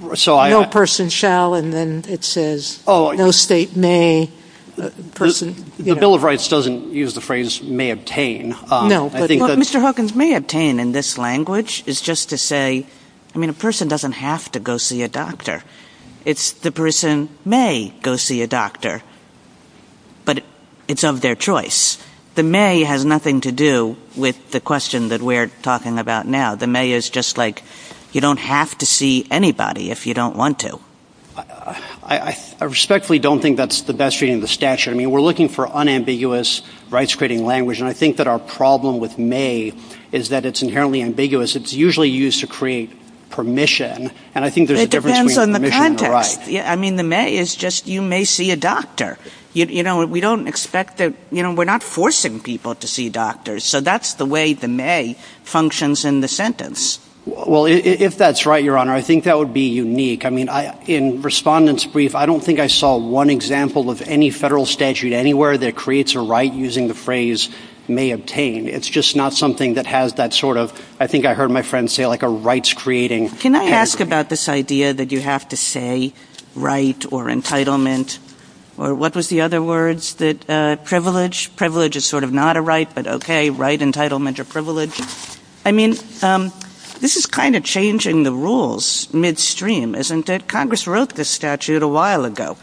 No person shall, and then it says, no state may. The Bill of Rights doesn't use the phrase may-obtain. Mr. Hawkins, may-obtain in this language is just to say, I mean, a person doesn't have to go see a doctor. It's the person may go see a doctor, but it's of their choice. The may has nothing to do with the question that we're talking about now. The may is just like, you don't have to see anybody if you don't want to. I respectfully don't think that's the best reading of the statute. I mean, we're looking for unambiguous rights-creating language, and I think that our problem with may is that it's inherently ambiguous. It's usually used to create permission, and I think there's a difference between permission and the right. I mean, the may is just, you may see a doctor. We don't expect that-we're not forcing people to see doctors, so that's the way the may functions in the sentence. Well, if that's right, Your Honor, I think that would be unique. I mean, in Respondent's Brief, I don't think I saw one example of any federal statute anywhere that creates a right using the phrase may-obtain. It's just not something that has that sort of, I think I heard my friend say, like a rights-creating language. Can I ask about this idea that you have to say right or entitlement, or what was the other words that-privilege? Privilege is sort of not a right, but okay, right, entitlement, or privilege. I mean, this is kind of changing the rules midstream, isn't it? Congress wrote this statute a while ago,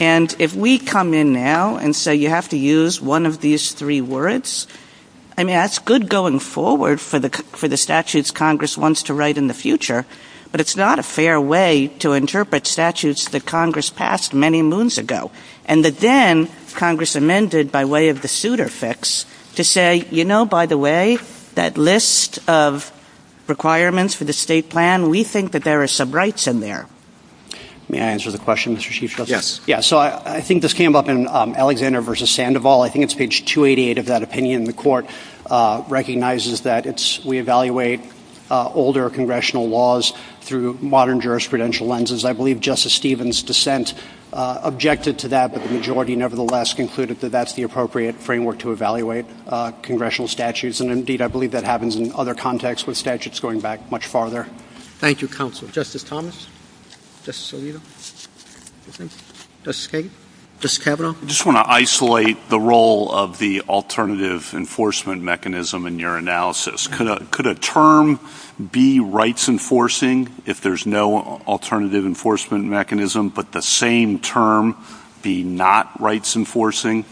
and if we come in now and say you have to use one of these three words, I mean, that's good going forward for the statutes Congress wants to write in the future, but it's not a fair way to interpret statutes that Congress passed many moons ago, and that then Congress amended by way of the suitor fix to say, you know, by the way, that list of requirements for the state plan, we think that there are some rights in there. May I answer the question, Mr. Chief Justice? Yes. So I think this came up in Alexander v. Sandoval. I think it's page 288 of that opinion. The court recognizes that we evaluate older congressional laws through modern jurisprudential lenses. I believe Justice Stevens' dissent objected to that, but the majority nevertheless concluded that that's the appropriate framework to evaluate congressional statutes, and indeed, I believe that happens in other contexts with statutes going back much farther. Thank you, counsel. Justice Thomas? Justice Alito? Justice Kavanaugh? I just want to isolate the role of the alternative enforcement mechanism in your analysis. Could a term be rights enforcing if there's no alternative enforcement mechanism, but the same term be not rights enforcing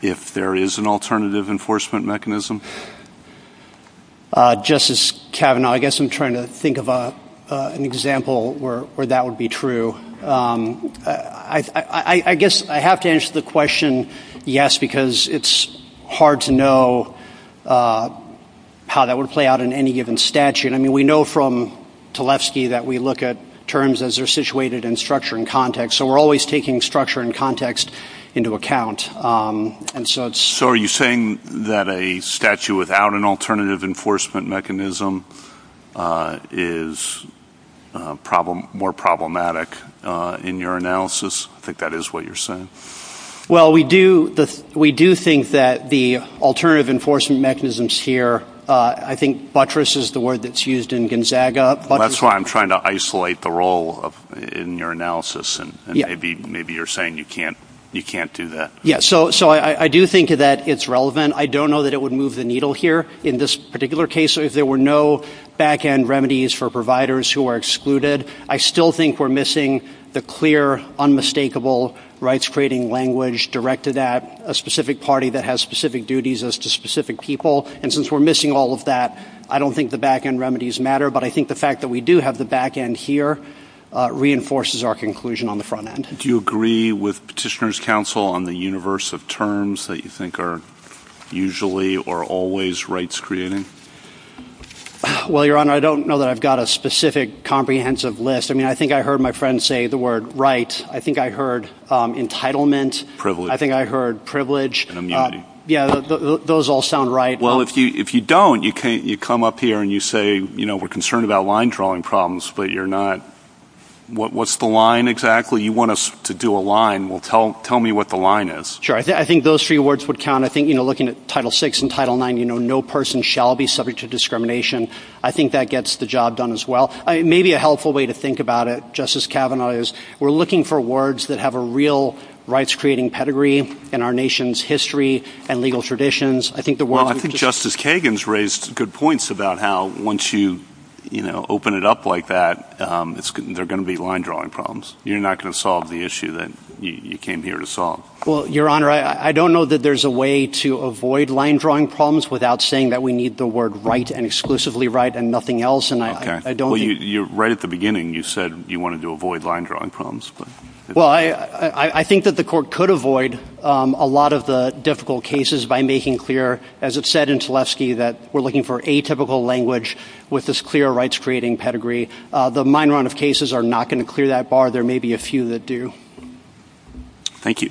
if there is an alternative enforcement mechanism? Justice Kavanaugh, I guess I'm trying to think of an example where that would be true. I guess I have to answer the question, yes, because it's hard to know how that would play out in any given statute. I mean, we know from Tlefsky that we look at terms as they're situated in structure and context, so we're always taking structure and context into account. So are you saying that a statute without an alternative enforcement mechanism is more problematic in your analysis? I think that is what you're saying. Well, we do think that the alternative enforcement mechanisms here, I think buttress is the word that's used in Gonzaga. That's why I'm trying to isolate the role in your analysis, and maybe you're saying you can't do that. Yeah, so I do think that it's relevant. I don't know that it would move the needle here. In this particular case, if there were no back-end remedies for providers who are excluded, I still think we're missing the clear, unmistakable rights-creating language directed at a specific party that has specific duties as to specific people. And since we're missing all of that, I don't think the back-end remedies matter. But I think the fact that we do have the back-end here reinforces our conclusion on the front-end. Do you agree with Petitioners' Counsel on the universe of terms that you think are usually or always rights-creating? Well, Your Honor, I don't know that I've got a specific comprehensive list. I mean, I think I heard my friend say the word right. I think I heard entitlement. I think I heard privilege. And immunity. Yeah, those all sound right. Well, if you don't, you come up here and you say, you know, we're concerned about line drawing problems, but you're not. What's the line exactly? You want us to do a line. Well, tell me what the line is. Sure, I think those three words would count. Looking at Title VI and Title IX, you know, no person shall be subject to discrimination. I think that gets the job done as well. Maybe a helpful way to think about it, Justice Kavanaugh, is we're looking for words that have a real rights-creating pedigree in our nation's history and legal traditions. Well, I think Justice Kagan's raised good points about how once you open it up like that, there are going to be line-drawing problems. You're not going to solve the issue that you came here to solve. Well, Your Honor, I don't know that there's a way to avoid line-drawing problems without saying that we need the word right and exclusively right and nothing else. And I don't think— Well, right at the beginning, you said you wanted to avoid line-drawing problems. Well, I think that the court could avoid a lot of the difficult cases by making clear, as it said in Tlesky, that we're looking for atypical language with this clear rights-creating pedigree. The minor amount of cases are not going to clear that bar. There may be a few that do. Thank you.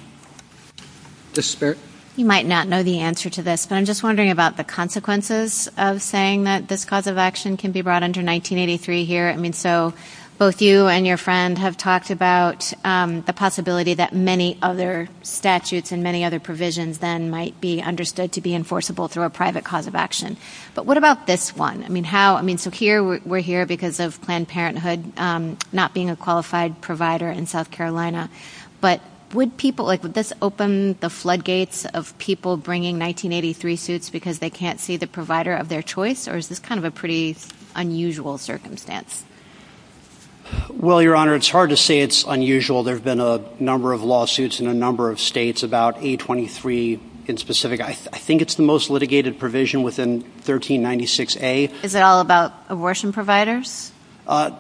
Justice Barrett? You might not know the answer to this, but I'm just wondering about the consequences of saying that this cause of action can be brought under 1983 here. I mean, so both you and your friend have talked about the possibility that many other statutes and many other provisions then might be understood to be enforceable through a private cause of action. But what about this one? I mean, how—I mean, so here we're here because of Planned Parenthood not being a qualified provider in South Carolina. But would people—like, would this open the floodgates of people bringing 1983 suits because they can't see the provider of their choice? Or is this kind of a pretty unusual circumstance? Well, Your Honor, it's hard to say it's unusual. There have been a number of lawsuits in a number of states about A23 in specific. I think it's the most litigated provision within 1396A. Is it all about abortion providers?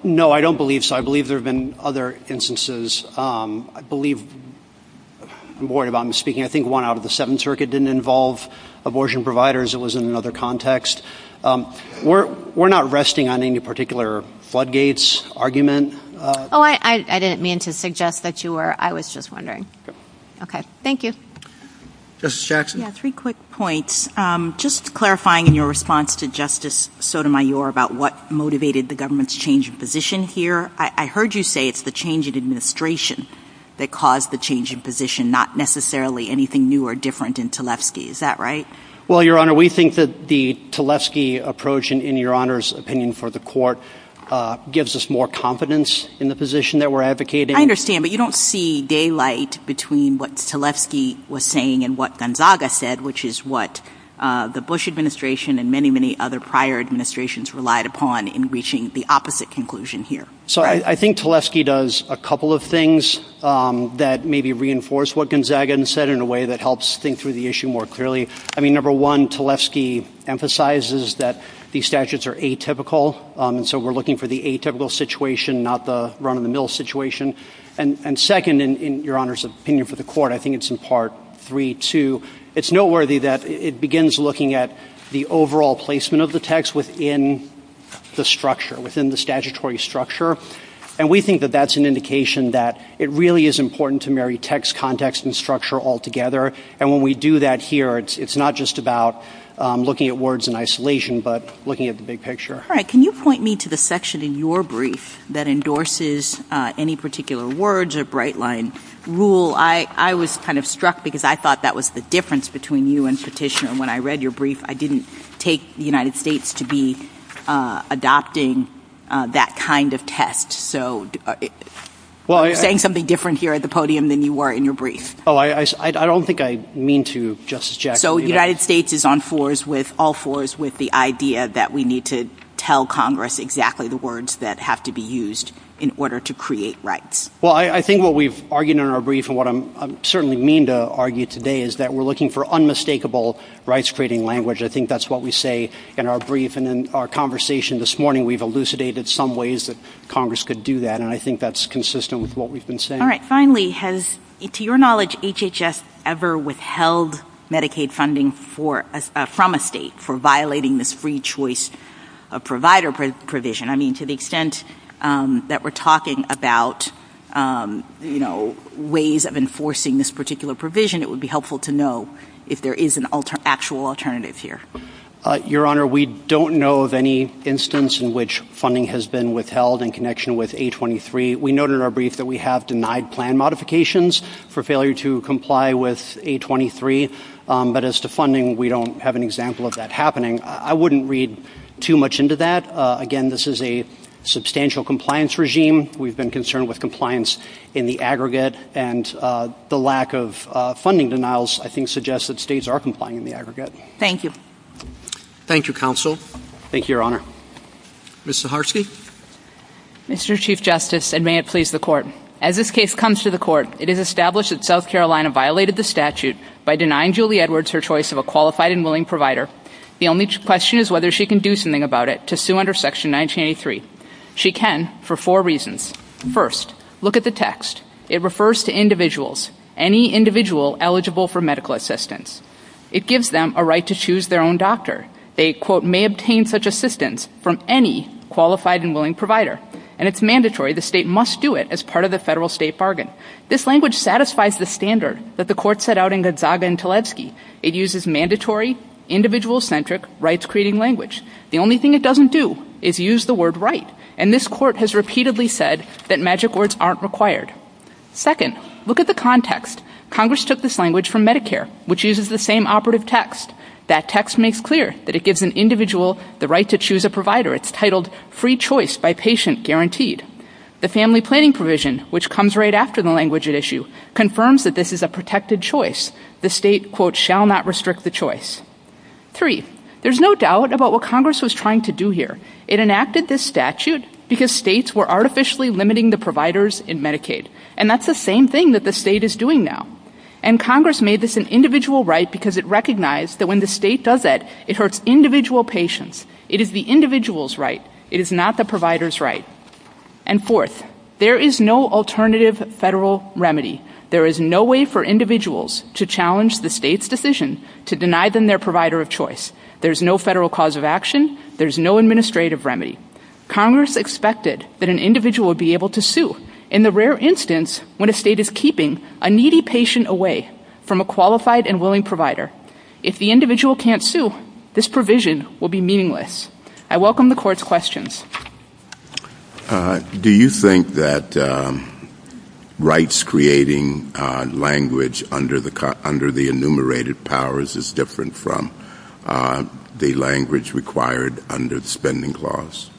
No, I don't believe so. I believe there have been other instances. I believe—I'm worried about my speaking. I think one out of the Seventh Circuit didn't involve abortion providers. It was in another context. We're not resting on any particular floodgates argument. Oh, I didn't mean to suggest that you were. I was just wondering. Okay, thank you. Justice Jackson? Yeah, three quick points. Just clarifying in your response to Justice Sotomayor about what motivated the government's change of position here. I heard you say it's the change in administration that caused the change in position, not necessarily anything new or different in Tlefsky. Is that right? Well, Your Honor, we think that the Tlesky approach, in Your Honor's opinion for the court, gives us more confidence in the position that we're advocating. I understand, but you don't see daylight between what Tlesky was saying and what Gonzaga said, which is what the Bush administration and many, many other prior administrations relied upon in reaching the opposite conclusion here. So I think Tlesky does a couple of things that maybe reinforce what Gonzaga said in a way that helps think through the issue more clearly. I mean, number one, Tlesky emphasizes that these statutes are atypical, so we're looking for the atypical situation, not the run-of-the-mill situation. And second, in Your Honor's opinion for the court, I think it's in Part 3-2, it's noteworthy that it begins looking at the overall placement of the text within the structure, within the statutory structure, and we think that that's an indication that it really is important to marry text, context, and structure all together, and when we do that here, it's not just about looking at words in isolation, but looking at the big picture. All right. Can you point me to the section in your brief that endorses any particular words or bright line rule? Well, I was kind of struck because I thought that was the difference between you and Stratishner. When I read your brief, I didn't take the United States to be adopting that kind of text. So you're saying something different here at the podium than you were in your brief. Oh, I don't think I mean to, Justice Jackson. So the United States is on all fours with the idea that we need to tell Congress exactly the words that have to be used in order to create rights. Well, I think what we've argued in our brief and what I certainly mean to argue today is that we're looking for unmistakable rights-creating language. I think that's what we say in our brief and in our conversation this morning. We've elucidated some ways that Congress could do that, and I think that's consistent with what we've been saying. All right. Finally, has, to your knowledge, HHS ever withheld Medicaid funding from a state for violating this free choice provider provision? I mean, to the extent that we're talking about, you know, ways of enforcing this particular provision, it would be helpful to know if there is an actual alternative here. Your Honor, we don't know of any instance in which funding has been withheld in connection with A23. We noted in our brief that we have denied plan modifications for failure to comply with A23, but as to funding, we don't have an example of that happening. I wouldn't read too much into that. Again, this is a substantial compliance regime. We've been concerned with compliance in the aggregate, and the lack of funding denials I think suggests that states are complying in the aggregate. Thank you. Thank you, Counsel. Thank you, Your Honor. Ms. Zaharsky? Mr. Chief Justice, and may it please the Court, as this case comes to the Court, it is established that South Carolina violated the statute by denying Julie Edwards her choice of a qualified and willing provider. The only question is whether she can do something about it to sue under Section 1983. She can, for four reasons. First, look at the text. It refers to individuals, any individual eligible for medical assistance. It gives them a right to choose their own doctor. They, quote, may obtain such assistance from any qualified and willing provider, and it's The state must do it as part of the federal-state bargain. This language satisfies the standard that the Court set out in Gonzaga and Teletsky. It uses mandatory, individual-centric, rights-creating language. The only thing it doesn't do is use the word right, and this Court has repeatedly said that magic words aren't required. Second, look at the context. Congress took this language from Medicare, which uses the same operative text. That text makes clear that it gives an individual the right to choose a provider. It's titled free choice by patient guaranteed. The family planning provision, which comes right after the language at issue, confirms that this is a protected choice. The state, quote, shall not restrict the choice. Three, there's no doubt about what Congress was trying to do here. It enacted this statute because states were artificially limiting the providers in Medicaid, and that's the same thing that the state is doing now. And Congress made this an individual right because it recognized that when the state does that, it hurts individual patients. It is the individual's right. It is not the provider's right. And fourth, there is no alternative federal remedy. There is no way for individuals to challenge the state's decision to deny them their provider of choice. There's no federal cause of action. There's no administrative remedy. Congress expected that an individual would be able to sue, in the rare instance when a state is keeping a needy patient away from a qualified and willing provider. If the individual can't sue, this provision will be meaningless. I welcome the Court's questions. Do you think that rights-creating language under the enumerated powers is different from the language required under the Spending Clause?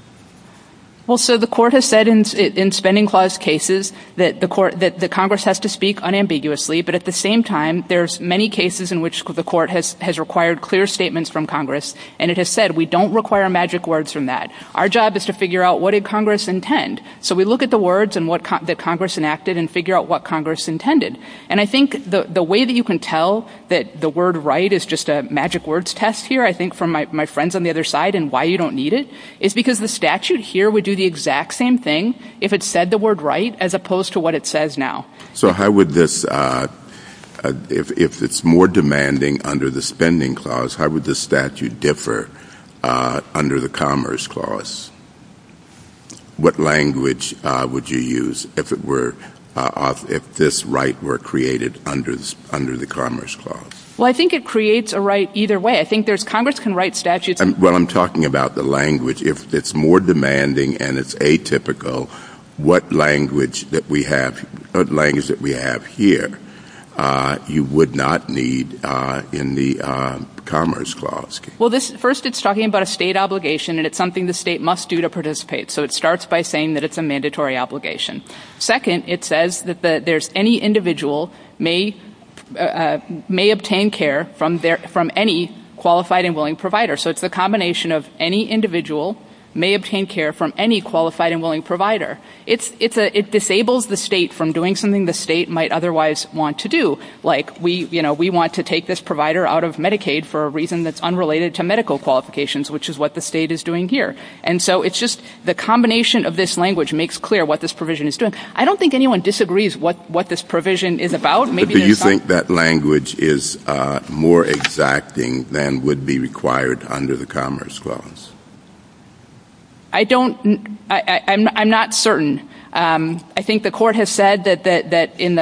Well, sir, the Court has said in Spending Clause cases that the Congress has to speak unambiguously, but at the same time, there's many cases in which the Court has required clear statements from Congress, and it has said we don't require magic words from that. Our job is to figure out what did Congress intend. So we look at the words that Congress enacted and figure out what Congress intended. And I think the way that you can tell that the word right is just a magic words test here, I think, from my friends on the other side and why you don't need it, is because the statute here would do the exact same thing if it said the word right as opposed to what it says now. So how would this, if it's more demanding under the Spending Clause, how would the statute differ under the Commerce Clause? What language would you use if it were, if this right were created under the Commerce Clause? Well, I think it creates a right either way. I think there's, Congress can write statutes. Well, I'm talking about the language. If it's more demanding and it's atypical, what language that we have, what language that we have here, you would not need in the Commerce Clause. Well, first it's talking about a state obligation and it's something the state must do to participate. So it starts by saying that it's a mandatory obligation. Second, it says that there's any individual may obtain care from any qualified and willing provider. So it's a combination of any individual may obtain care from any qualified and willing provider. It disables the state from doing something the state might otherwise want to do. Like, we, you know, we want to take this provider out of Medicaid for a reason that's unrelated to medical qualifications, which is what the state is doing here. And so it's just the combination of this language makes clear what this provision is doing. I don't think anyone disagrees what this provision is about. Do you think that language is more exacting than would be required under the Commerce Clause? I don't, I'm not certain. I think the court has said that in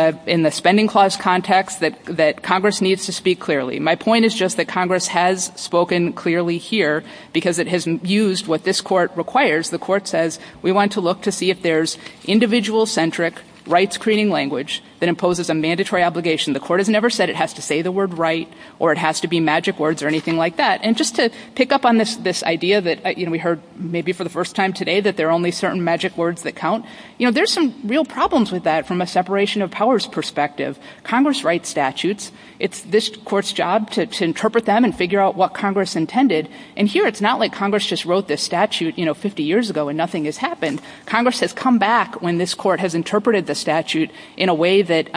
the Spending Clause context that Congress needs to speak clearly. My point is just that Congress has spoken clearly here because it has used what this court requires. The court says we want to look to see if there's individual-centric rights-creating language that imposes a mandatory obligation. The court has never said it has to say the word right or it has to be magic words or anything like that. And just to pick up on this idea that, you know, we heard maybe for the first time today that there are only certain magic words that count, you know, there's some real problems with that from a separation of powers perspective. Congress writes statutes. It's this court's job to interpret them and figure out what Congress intended. And here it's not like Congress just wrote this statute, you know, 50 years ago and nothing has happened. Congress has come back when this court has interpreted the statute in a way that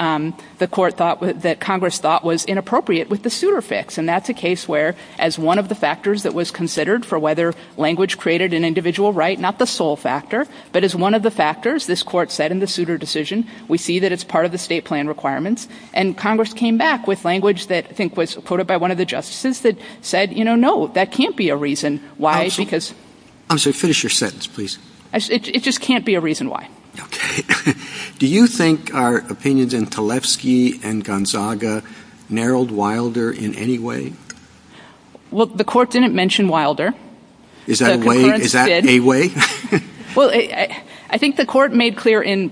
the court thought, that Congress thought was inappropriate with the suitor fix. And that's a case where as one of the factors that was considered for whether language created an individual right, not the sole factor, but as one of the factors, this court said in the suitor decision, we see that it's part of the state plan requirements. And Congress came back with language that I think was quoted by one of the justices that said, you know, no, that can't be a reason why because- I'm sorry, finish your sentence, please. It just can't be a reason why. Okay. Do you think our opinions in Kalevsky and Gonzaga narrowed Wilder in any way? Well, the court didn't mention Wilder. Is that a way? Well, I think the court made clear in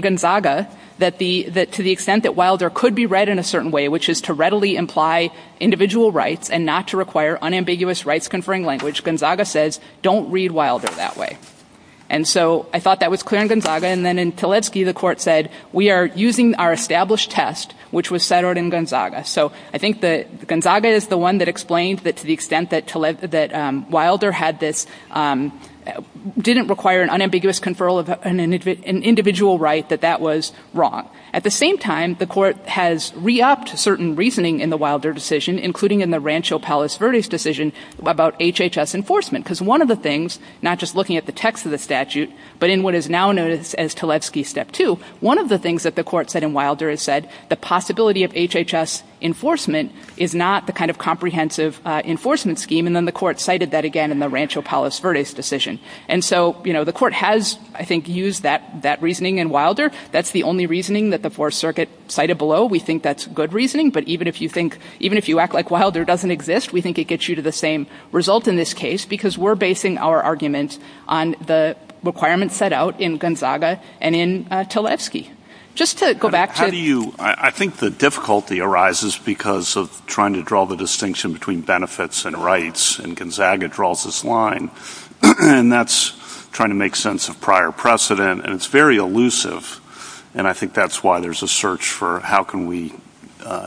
Gonzaga that to the extent that Wilder could be read in a certain way, which is to readily imply individual rights and not to require unambiguous rights conferring language, Gonzaga says, don't read Wilder that way. And so I thought that was clear in Gonzaga. And then in Kalevsky, the court said, we are using our established test, which was centered in Gonzaga. So I think that Gonzaga is the one that explains that to the extent that Wilder had this- didn't require an unambiguous conferral of an individual right, that that was wrong. At the same time, the court has re-upped certain reasoning in the Wilder decision, including in the Rancho Palos Verdes decision about HHS enforcement. Because one of the things, not just looking at the text of the statute, but in what is now known as Kalevsky step two, one of the things that the court said in Wilder is said the possibility of HHS enforcement is not the kind of comprehensive enforcement scheme. And then the court cited that again in the Rancho Palos Verdes decision. And so, you know, the court has, I think, used that that reasoning in Wilder. That's the only reasoning that the Fourth Circuit cited below. We think that's good reasoning. But even if you think- even if you act like Wilder doesn't exist, we think it gets you to the same result in this case, because we're basing our argument on the requirements set out in Gonzaga and in Kalevsky. Just to go back to- I think the difficulty arises because of trying to draw the distinction between benefits and rights. And Gonzaga draws this line, and that's trying to make sense of prior precedent, and it's very elusive. And I think that's why there's a search for how can we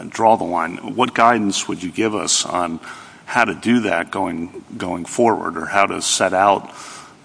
draw the line. What guidance would you give us on how to do that going forward, or how to set out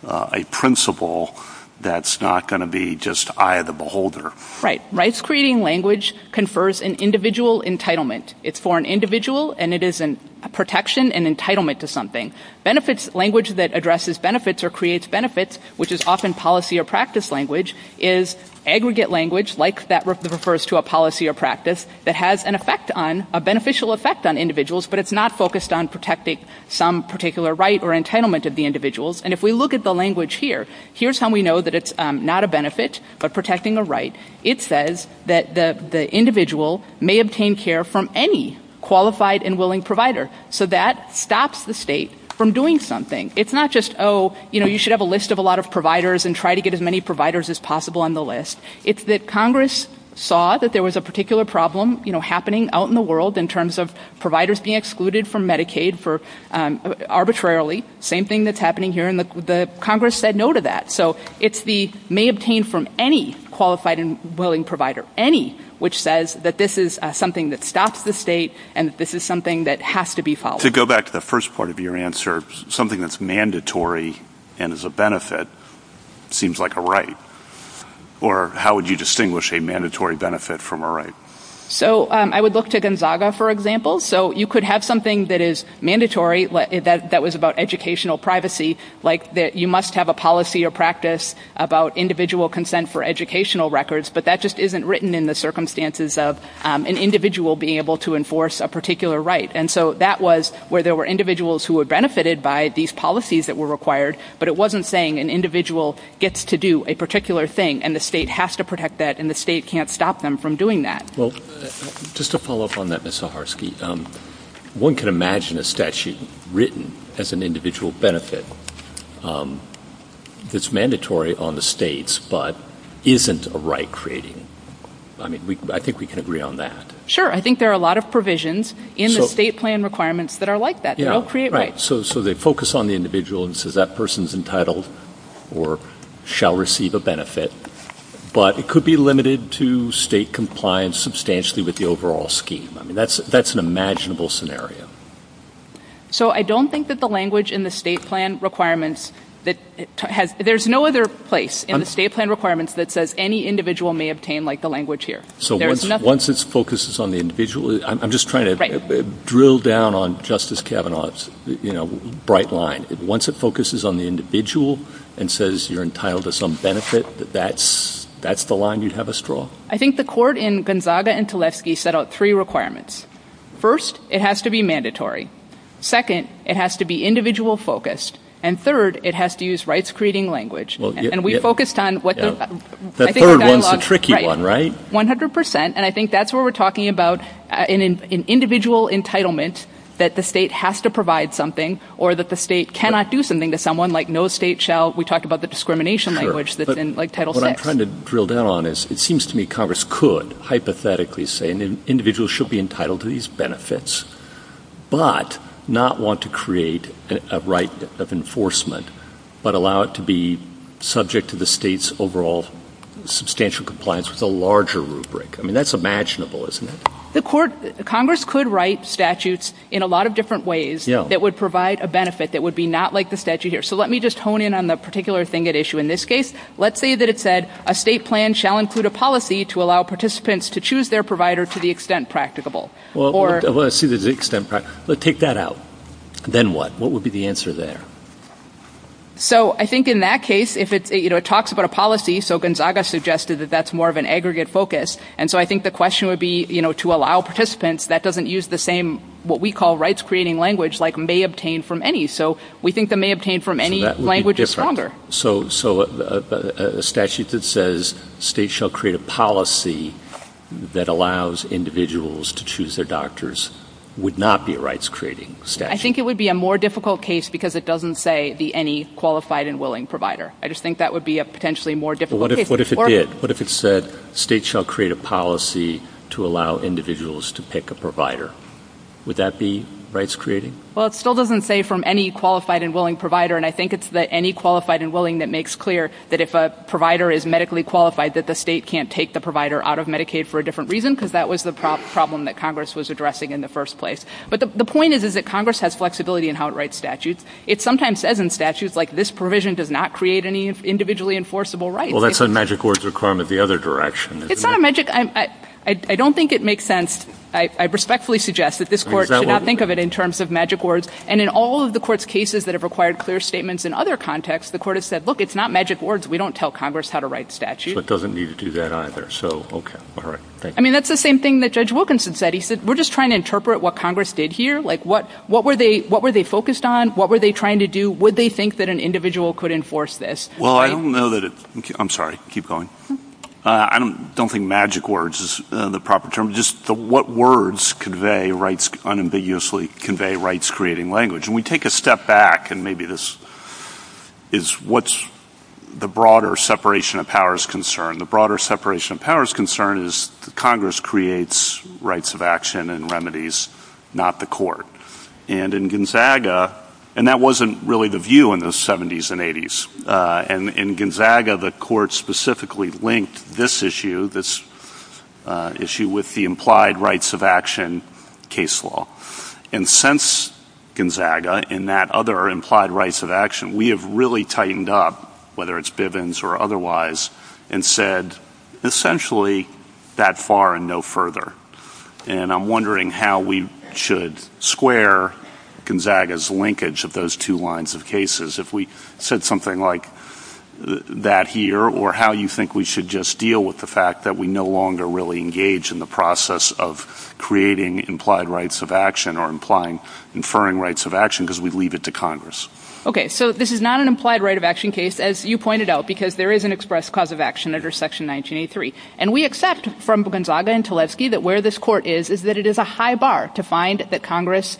a principle that's not going to be just eye of the beholder? Right. So, rights-creating language confers an individual entitlement. It's for an individual, and it is a protection and entitlement to something. Benefits-language that addresses benefits or creates benefits, which is often policy or practice language, is aggregate language, like that refers to a policy or practice, that has an effect on-a beneficial effect on individuals, but it's not focused on protecting some particular right or entitlement of the individuals. And if we look at the language here, here's how we know that it's not a benefit, but protecting a right. It says that the individual may obtain care from any qualified and willing provider. So that stops the state from doing something. It's not just, oh, you know, you should have a list of a lot of providers and try to get as many providers as possible on the list. It's that Congress saw that there was a particular problem, you know, happening out in the world in terms of providers being excluded from Medicaid for, arbitrarily, same thing that's happening here, and the Congress said no to that. So it's the may obtain from any qualified and willing provider, any, which says that this is something that stops the state and this is something that has to be followed. To go back to the first part of your answer, something that's mandatory and is a benefit seems like a right. Or how would you distinguish a mandatory benefit from a right? So I would look to Gonzaga, for example. So you could have something that is mandatory, that was about educational privacy, like that you must have a policy or practice about individual consent for educational records, but that just isn't written in the circumstances of an individual being able to enforce a particular right. And so that was where there were individuals who were benefited by these policies that were required, but it wasn't saying an individual gets to do a particular thing, and the state has to protect that, and the state can't stop them from doing that. Well, just to follow up on that, Ms. Zaharsky, one can imagine a statute written as an individual benefit, it's mandatory on the states, but isn't a right creating, I mean, I think we can agree on that. Sure, I think there are a lot of provisions in the state plan requirements that are like that. They don't create rights. Right, so they focus on the individual and say that person is entitled or shall receive a benefit, but it could be limited to state compliance substantially with the overall scheme. I mean, that's an imaginable scenario. So I don't think that the language in the state plan requirements that has, there's no other place in the state plan requirements that says any individual may obtain like the language here. So once it focuses on the individual, I'm just trying to drill down on Justice Kavanaugh's bright line. Once it focuses on the individual and says you're entitled to some benefit, that's the line you'd have us draw. I think the court in Gonzaga and Tulesky set out three requirements. First, it has to be mandatory. Second, it has to be individual focused. And third, it has to use rights creating language. And we focused on what the, I think the dialogue, 100%, and I think that's where we're talking about an individual entitlement that the state has to provide something or that the state cannot do something to someone like no state shall, we talked about the discrimination language that's in like Title VI. What I'm trying to drill down on is it seems to me Congress could hypothetically say an individual should be entitled to these benefits, but not want to create a right of enforcement, but allow it to be subject to the state's overall substantial compliance with a larger rubric. I mean, that's imaginable, isn't it? The court, Congress could write statutes in a lot of different ways that would provide a benefit that would be not like the statute here. So let me just hone in on the particular thing at issue in this case. Let's say that it said a state plan shall include a policy to allow participants to choose their provider to the extent practicable. Well, I see the extent, but take that out. Then what? What would be the answer there? So I think in that case, if it talks about a policy, so Gonzaga suggested that that's more of an aggregate focus. And so I think the question would be, you know, to allow participants, that doesn't use the same, what we call rights creating language like may obtain from any. So we think the may obtain from any language is stronger. So a statute that says state shall create a policy that allows individuals to choose their doctors would not be a rights creating statute? I think it would be a more difficult case because it doesn't say the any qualified and willing provider. I just think that would be a potentially more difficult case. What if it did? What if it said state shall create a policy to allow individuals to pick a provider? Would that be rights creating? Well, it still doesn't say from any qualified and willing provider. And I think it's the any qualified and willing that makes clear that if a provider is medically qualified that the state can't take the provider out of Medicaid for a different reason, because that was the problem that Congress was addressing in the first place. But the point is, is that Congress has flexibility in how it writes statutes. It sometimes says in statutes like this provision does not create any individually enforceable rights. Well, that's a magic words requirement the other direction. It's not a magic, I don't think it makes sense. I respectfully suggest that this court should not think of it in terms of magic words. And in all of the court's cases that have required clear statements in other contexts, the court has said, look, it's not magic words. We don't tell Congress how to write statute. So it doesn't need to do that either. So okay. All right. I mean, that's the same thing that Judge Wilkinson said. He said, we're just trying to interpret what Congress did here. Like what, what were they, what were they focused on? What were they trying to do? Would they think that an individual could enforce this? Well, I don't know that it, I'm sorry, keep going. I don't think magic words is the proper term. It's just the, what words convey rights, unambiguously convey rights, creating language. And we take a step back and maybe this is what's the broader separation of powers concern. The broader separation of powers concern is Congress creates rights of action and remedies, not the court. And in Gonzaga, and that wasn't really the view in the seventies and eighties. And in Gonzaga, the court specifically linked this issue, this issue with the implied rights of action case law. And since Gonzaga in that other implied rights of action, we have really tightened up whether it's Bivens or otherwise and said essentially that far and no further. And I'm wondering how we should square Gonzaga's linkage of those two lines of cases. If we said something like that here, or how you think we should just deal with the fact that we no longer really engage in the process of creating implied rights of action or implying inferring rights of action, because we'd leave it to Congress. Okay. So this is not an implied right of action case, as you pointed out, because there is an express cause of action under section 1983. And we accept from Gonzaga and Teleski that where this court is, is that it is a high bar to find that Congress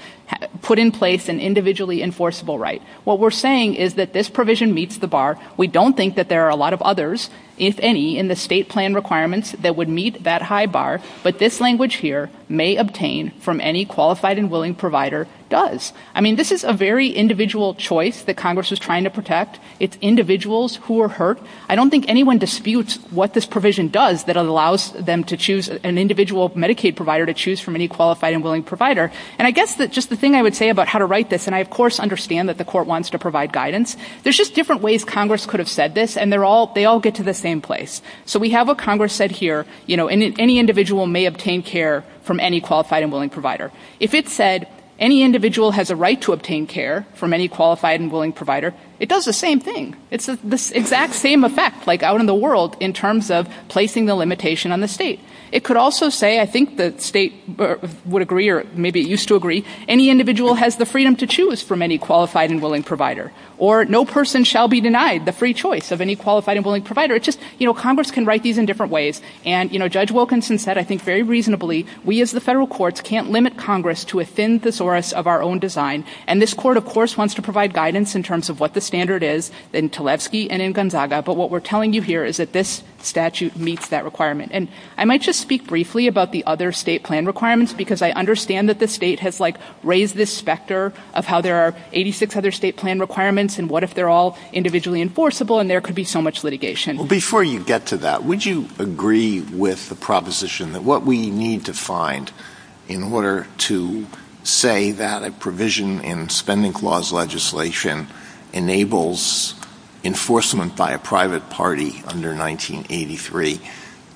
put in place an individually enforceable right. What we're saying is that this provision meets the bar. We don't think that there are a lot of others, if any, in the state plan requirements that would meet that high bar. But this language here, may obtain from any qualified and willing provider does. I mean, this is a very individual choice that Congress is trying to protect. It's individuals who are hurt. I don't think anyone disputes what this provision does that allows them to choose an individual Medicaid provider to choose from any qualified and willing provider. And I guess that just the thing I would say about how to write this, and I of course understand that the court wants to provide guidance. There's just different ways Congress could have said this, and they all get to the same place. So we have what Congress said here, any individual may obtain care from any qualified and willing provider. If it said any individual has a right to obtain care from any qualified and willing provider, it does the same thing. It's the exact same effect, like out in the world, in terms of placing the limitation on the state. It could also say, I think the state would agree, or maybe it used to agree, any individual has the freedom to choose from any qualified and willing provider. Or no person shall be denied the free choice of any qualified and willing provider. It's just, you know, Congress can write these in different ways. And you know, Judge Wilkinson said, I think very reasonably, we as the federal courts can't limit Congress to a thin thesaurus of our own design. And this court, of course, wants to provide guidance in terms of what the standard is in Tlaibski and in Gonzaga, but what we're telling you here is that this statute meets that requirement. And I might just speak briefly about the other state plan requirements, because I understand that the state has like raised this specter of how there are 86 other state plan requirements, and what if they're all individually enforceable, and there could be so much litigation. Before you get to that, would you agree with the proposition that what we need to find in order to say that a provision in spending laws legislation enables enforcement by a private party under 1983,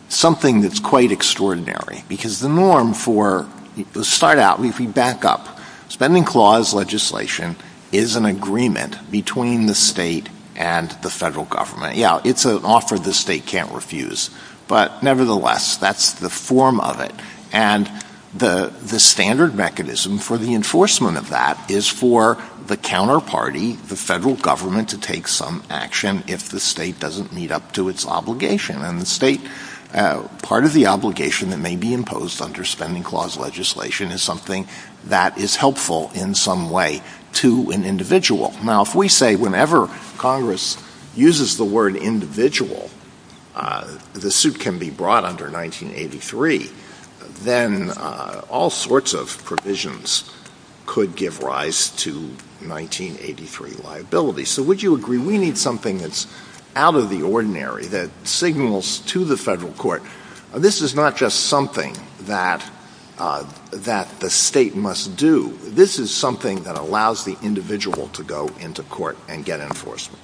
something that's quite extraordinary, because the norm for — let's start out, we back up. Spending clause legislation is an agreement between the state and the federal government. Yeah, it's an offer the state can't refuse, but nevertheless, that's the form of it. And the standard mechanism for the enforcement of that is for the counterparty, the federal government, to take some action if the state doesn't meet up to its obligation. And the state, part of the obligation that may be imposed under spending clause legislation is something that is helpful in some way to an individual. Now, if we say whenever Congress uses the word individual, the suit can be brought under 1983, then all sorts of provisions could give rise to 1983 liability. So would you agree we need something that's out of the ordinary, that signals to the federal court, this is not just something that the state must do. This is something that allows the individual to go into court and get enforcement.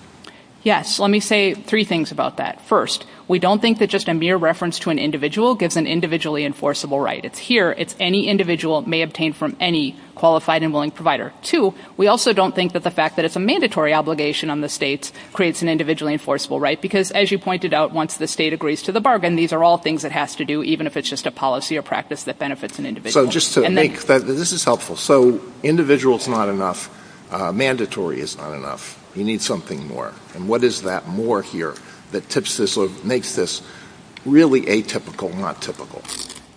Yes. Let me say three things about that. First, we don't think that just a mere reference to an individual gives an individually enforceable right. It's here. It's any individual may obtain from any qualified and willing provider. Two, we also don't think that the fact that it's a mandatory obligation on the states creates an individually enforceable right. Because as you pointed out, once the state agrees to the bargain, these are all things it has to do, even if it's just a policy or practice that benefits an individual. So just to make that, this is helpful. So individual is not enough. Mandatory is not enough. You need something more. And what is that more here that makes this really atypical, not typical?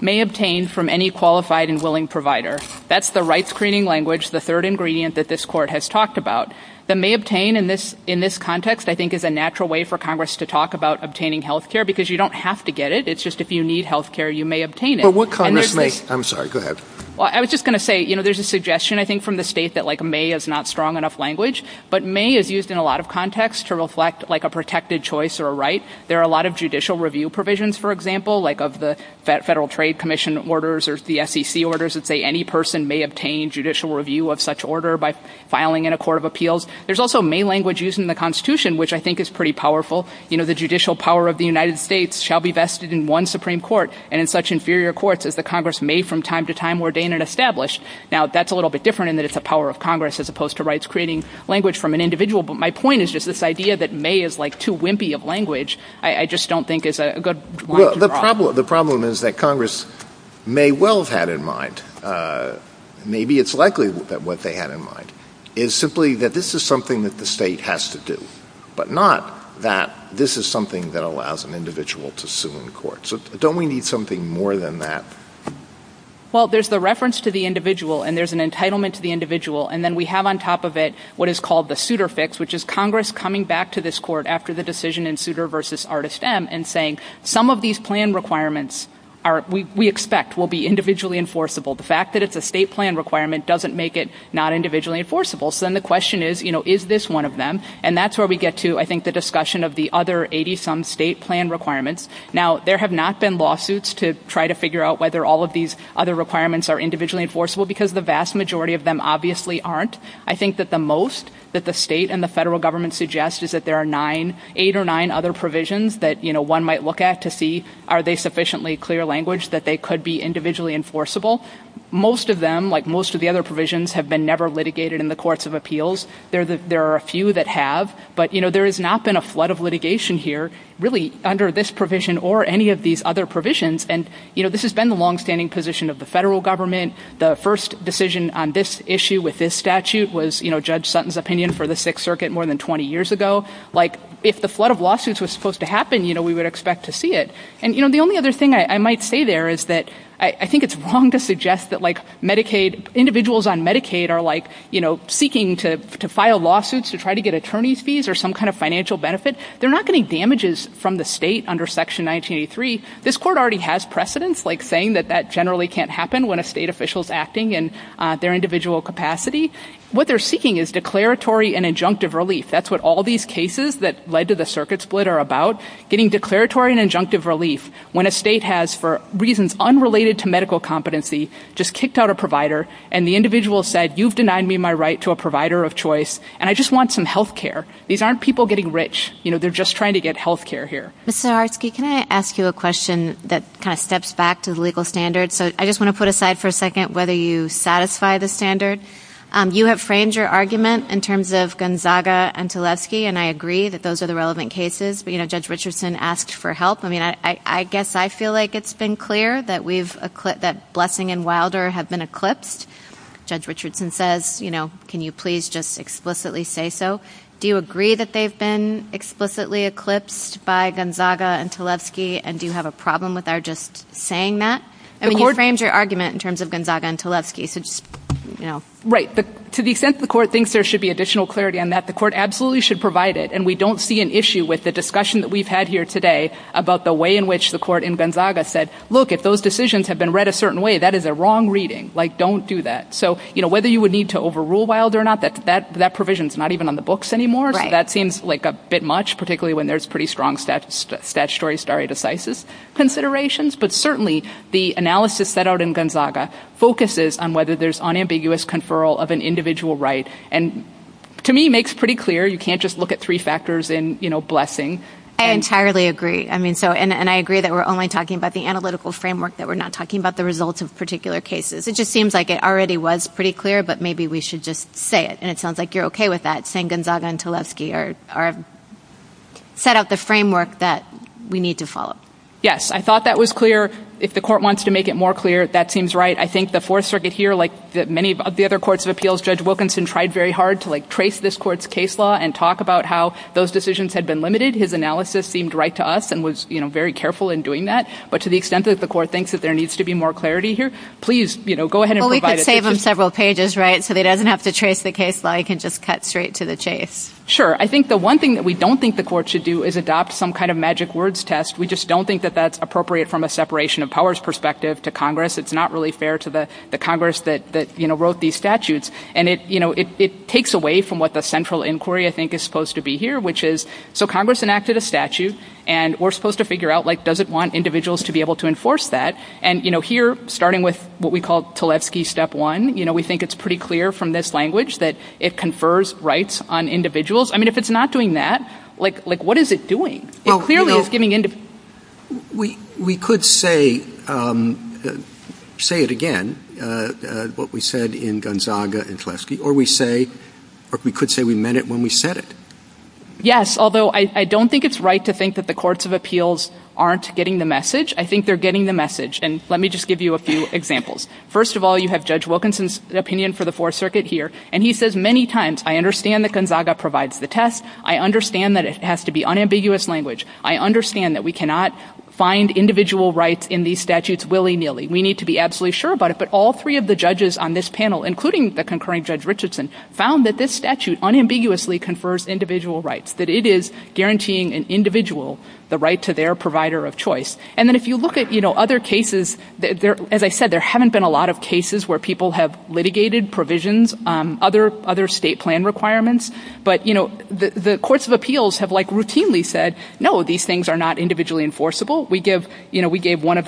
May obtain from any qualified and willing provider. That's the right screening language, the third ingredient that this court has talked about. The may obtain in this context, I think, is a natural way for Congress to talk about obtaining health care because you don't have to get it. It's just if you need health care, you may obtain it. I'm sorry. Go ahead. Well, I was just going to say, you know, there's a suggestion, I think, from the state that like may is not strong enough language, but may is used in a lot of contexts to reflect like a protected choice or a right. There are a lot of judicial review provisions, for example, like of the Federal Trade Commission orders or the SEC orders that say any person may obtain judicial review of such order by filing in a court of appeals. There's also may language used in the Constitution, which I think is pretty powerful. You know, the judicial power of the United States shall be vested in one Supreme Court and in such inferior courts as the Congress may from time to time ordain and establish. Now, that's a little bit different in that it's the power of Congress as opposed to rights creating language from an individual. But my point is just this idea that may is like too wimpy of language. I just don't think it's a good one. The problem is that Congress may well have had in mind, maybe it's likely that what they had in mind is simply that this is something that the state has to do, but not that this is something that allows an individual to sue in court. So don't we need something more than that? Well, there's the reference to the individual and there's an entitlement to the individual. And then we have on top of it what is called the suitor fix, which is Congress coming back to this court after the decision in suitor versus artist M and saying some of these plan requirements we expect will be individually enforceable. The fact that it's a state plan requirement doesn't make it not individually enforceable. So then the question is, you know, is this one of them? And that's where we get to, I think, the discussion of the other 80-some state plan requirements. Now, there have not been lawsuits to try to figure out whether all of these other requirements are individually enforceable because the vast majority of them obviously aren't. I think that the most that the state and the federal government suggests is that there are nine, eight or nine other provisions that, you know, one might look at to see are they sufficiently clear language that they could be individually enforceable. Most of them, like most of the other provisions, have been never litigated in the courts of There are a few that have, but, you know, there has not been a flood of litigation here really under this provision or any of these other provisions. And, you know, this has been the longstanding position of the federal government. The first decision on this issue with this statute was, you know, Judge Sutton's opinion for the Sixth Circuit more than 20 years ago. Like, if the flood of lawsuits was supposed to happen, you know, we would expect to see it. And, you know, the only other thing I might say there is that I think it's wrong to suggest that, like, Medicaid, individuals on Medicaid are, like, you know, seeking to file lawsuits to try to get attorney's fees or some kind of financial benefit. They're not getting damages from the state under Section 1983. This court already has precedence, like, saying that that generally can't happen when a state official is acting in their individual capacity. What they're seeking is declaratory and injunctive relief. That's what all these cases that led to the circuit split are about, getting declaratory and injunctive relief when a state has, for reasons unrelated to medical competency, just kicked out a provider, and the individual said, you've denied me my right to a provider of choice, and I just want some health care. These aren't people getting rich. You know, they're just trying to get health care here. Ms. Zaharsky, can I ask you a question that kind of steps back to the legal standard? So I just want to put aside for a second whether you satisfy the standard. You have framed your argument in terms of Gonzaga and Tlebski, and I agree that those are the relevant cases. But, you know, Judge Richardson asked for help. I mean, I guess I feel like it's been clear that Blessing and Wilder have been eclipsed. Judge Richardson says, you know, can you please just explicitly say so. Do you agree that they've been explicitly eclipsed by Gonzaga and Tlebski, and do you have a problem with our just saying that? I mean, you've framed your argument in terms of Gonzaga and Tlebski, so just, you know. Right. To the extent the court thinks there should be additional clarity on that, the court absolutely should provide it, and we don't see an issue with the discussion that we've had here today about the way in which the court in Gonzaga said, look, if those decisions have been read a certain way, that is a wrong reading. Like, don't do that. So, you know, whether you would need to overrule Wilder or not, that provision is not even on the books anymore. Right. That seems like a bit much, particularly when there's pretty strong statutory stare decisis considerations. But certainly, the analysis set out in Gonzaga focuses on whether there's unambiguous conferral of an individual right, and to me, makes pretty clear, you can't just look at three factors in, you know, blessing. I entirely agree. I mean, so, and I agree that we're only talking about the analytical framework, that we're not talking about the results of particular cases. It just seems like it already was pretty clear, but maybe we should just say it, and it sounds like you're okay with that, saying Gonzaga and Tlebski are, set out the framework that we need to follow. Yes. I thought that was clear. If the court wants to make it more clear, that seems right. I think the Fourth Circuit here, like many of the other courts of appeals, Judge Wilkinson tried very hard to, like, trace this court's case law and talk about how those decisions had been limited. His analysis seemed right to us and was, you know, very careful in doing that, but to the extent that the court thinks that there needs to be more clarity here, please, you know, go ahead and provide it. Well, we could save him several pages, right, so he doesn't have to trace the case law. He can just cut straight to the chase. Sure. I think the one thing that we don't think the court should do is adopt some kind of magic words test. We just don't think that that's appropriate from a separation of powers perspective to Congress. It's not really fair to the Congress that, you know, wrote these statutes, and it, you know, it takes away from what the central inquiry, I think, is supposed to be here, which is, so Congress enacted a statute, and we're supposed to figure out, like, does it want individuals to be able to enforce that, and, you know, here, starting with what we call Tlebski Step 1, you know, we think it's pretty clear from this language that it confers rights on individuals. I mean, if it's not doing that, like, what is it doing? It clearly is giving individuals. We could say, say it again, what we said in Gonzaga and Tlebski, or we say, or we could say we meant it when we said it. Yes, although I don't think it's right to think that the courts of appeals aren't getting the message. I think they're getting the message, and let me just give you a few examples. First of all, you have Judge Wilkinson's opinion for the Fourth Circuit here, and he says many times, I understand that Gonzaga provides the test. I understand that it has to be unambiguous language. I understand that we cannot find individual rights in these statutes willy-nilly. We need to be absolutely sure about it, but all three of the judges on this panel, including the concurring Judge Richardson, found that this statute unambiguously confers individual rights, that it is guaranteeing an individual the right to their provider of choice, and then if you look at, you know, other cases, as I said, there haven't been a lot of cases where people have litigated provisions, other state plan requirements, but, you know, the courts of appeals have, like, routinely said, no, these things are not individually enforceable. We gave, you know, we gave one of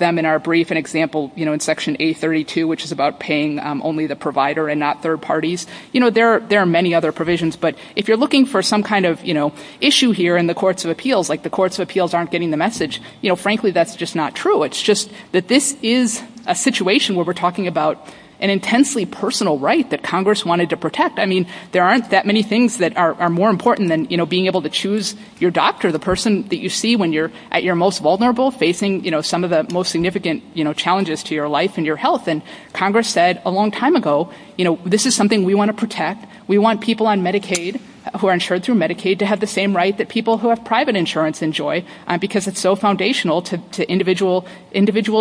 them in our brief an example, you know, in Section A32, which is about paying only the provider and not third parties. You know, there are many other provisions, but if you're looking for some kind of, you know, issue here in the courts of appeals, like the courts of appeals aren't getting the message, you know, frankly, that's just not true. It's just that this is a situation where we're talking about an intensely personal right that Congress wanted to protect. I mean, there aren't that many things that are more important than, you know, being able to choose your doctor, the person that you see when you're at your most vulnerable, facing, you know, some of the most significant, you know, challenges to your life and your health, and Congress said a long time ago, you know, this is something we want to protect. We want people on Medicaid who are insured through Medicaid to have the same right that people who have private insurance enjoy because it's so foundational to individual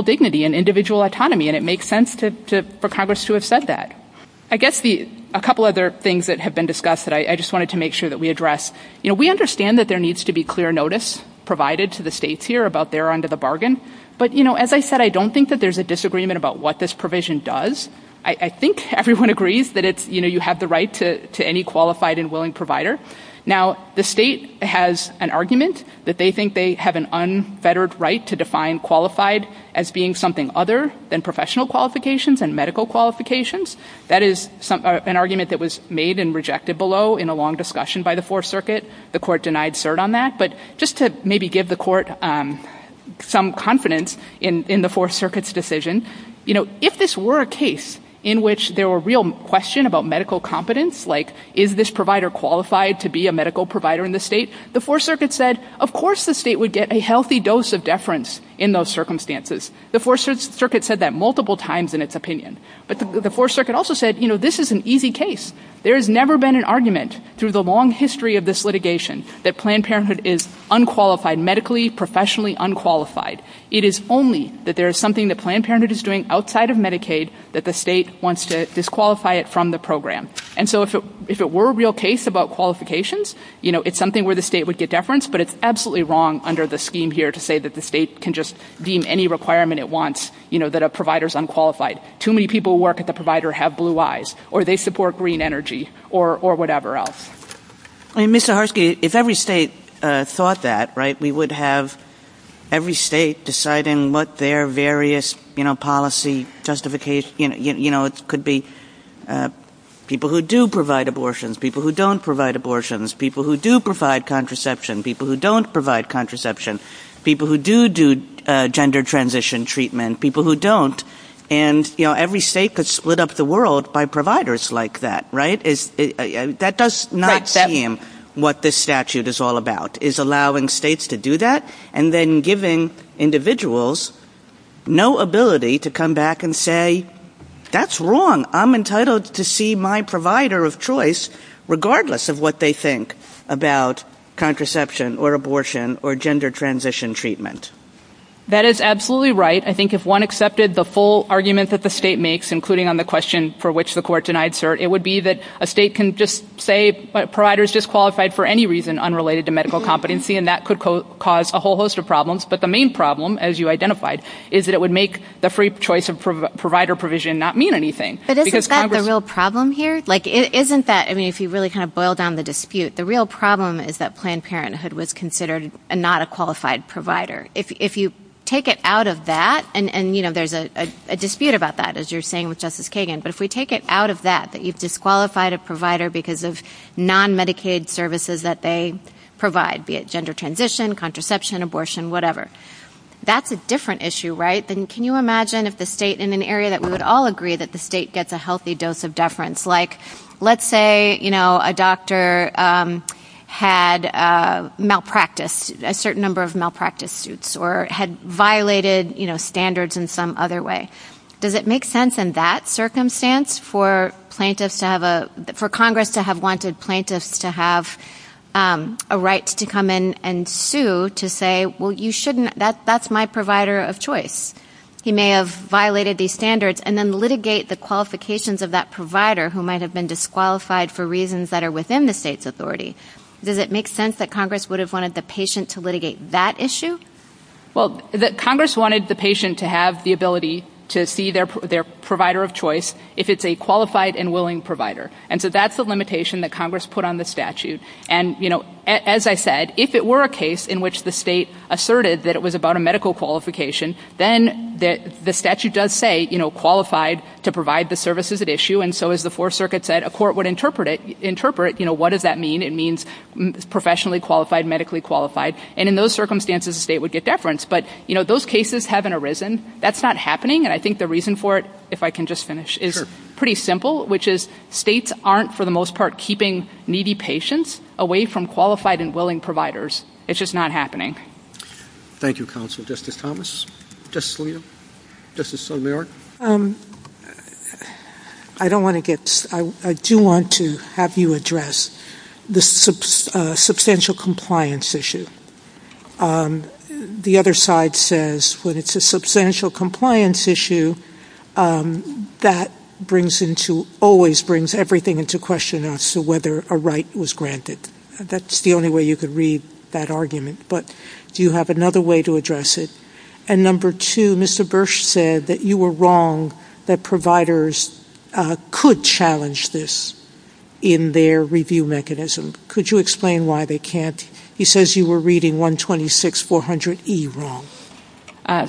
dignity and individual autonomy, and it makes sense for Congress to have said that. I guess a couple other things that have been discussed that I just wanted to make sure that we address. You know, we understand that there needs to be clear notice provided to the states here about their end of the bargain, but, you know, as I said, I don't think that there's a disagreement about what this provision does. I think everyone agrees that it's, you know, you have the right to any qualified and willing provider. Now, the state has an argument that they think they have an unfettered right to define qualified as being something other than professional qualifications and medical qualifications. That is an argument that was made and rejected below in a long discussion by the Fourth Circuit. The court denied cert on that, but just to maybe give the court some confidence in the Fourth Circuit's decision, you know, if this were a case in which there were real question about medical competence, like is this provider qualified to be a medical provider in the state, the Fourth Circuit said, of course the state would get a healthy dose of deference in those circumstances. The Fourth Circuit said that multiple times in its opinion, but the Fourth Circuit also said, you know, this is an easy case. There has never been an argument through the long history of this litigation that Planned Parenthood is unqualified medically, professionally unqualified. It is only that there is something that Planned Parenthood is doing outside of Medicaid that the state wants to disqualify it from the program. And so if it were a real case about qualifications, you know, it's something where the state would get deference, but it's absolutely wrong under the scheme here to say that the state can just deem any requirement it wants, you know, that a provider is unqualified. Too many people who work at the provider have blue eyes or they support green energy or whatever else. I mean, Ms. Zaharsky, if every state thought that, right, we would have every state deciding what their various, you know, policy justification, you know, it could be people who do provide abortions, people who don't provide abortions, people who do provide contraception, people who don't provide contraception, people who do do gender transition treatment, people who don't. And, you know, every state could split up the world by providers like that, right? That does not seem what this statute is all about, is allowing states to do that and then giving individuals no ability to come back and say, that's wrong. I'm entitled to see my provider of choice regardless of what they think about contraception or abortion or gender transition treatment. That is absolutely right. I think if one accepted the full argument that the state makes, including on the question for which the court denied cert, it would be that a state can just say providers disqualified for any reason unrelated to medical competency, and that could cause a whole host of problems. But the main problem, as you identified, is that it would make the free choice of provider provision not mean anything. But isn't that the real problem here? Like, isn't that, I mean, if you really kind of boil down the dispute, the real problem is that Planned Parenthood was considered not a qualified provider. If you take it out of that, and, you know, there's a dispute about that, as you're saying with Justice Kagan, but if we take it out of that, that you've disqualified a provider because of non-Medicaid services that they provide, be it gender transition, contraception, abortion, whatever, that's a different issue, right? Then can you imagine if the state, in an area that we would all agree that the state gets a healthy dose of deference, like, let's say, you know, a doctor had malpracticed a certain number of malpractice suits or had violated, you know, standards in some other way. Does it make sense in that circumstance for plaintiffs to have a, for Congress to have wanted plaintiffs to have a right to come in and sue to say, well, you shouldn't, that's my provider of choice. He may have violated these standards, and then litigate the qualifications of that provider who might have been disqualified for reasons that are within the state's authority. Does it make sense that Congress would have wanted the patient to litigate that issue? Well, Congress wanted the patient to have the ability to see their provider of choice if it's a qualified and willing provider. And so that's the limitation that Congress put on the statute. And you know, as I said, if it were a case in which the state asserted that it was about a medical qualification, then the statute does say, you know, qualified to provide the services at issue, and so as the Fourth Circuit said, a court would interpret it, you know, what does that mean? It means professionally qualified, medically qualified. And in those circumstances, the state would get deference. But you know, those cases haven't arisen. That's not happening. And I think the reason for it, if I can just finish, is pretty simple, which is states aren't, for the most part, keeping needy patients away from qualified and willing providers. It's just not happening. Thank you, counsel. Justice Thomas? Justice Scalia? Justice O'Leary? I do want to have you address the substantial compliance issue. The other side says when it's a substantial compliance issue, that always brings everything into question as to whether a right was granted. That's the only way you could read that argument. But do you have another way to address it? And number two, Mr. Bursch said that you were wrong that providers could challenge this in their review mechanism. Could you explain why they can't? He says you were reading 126-400E wrong.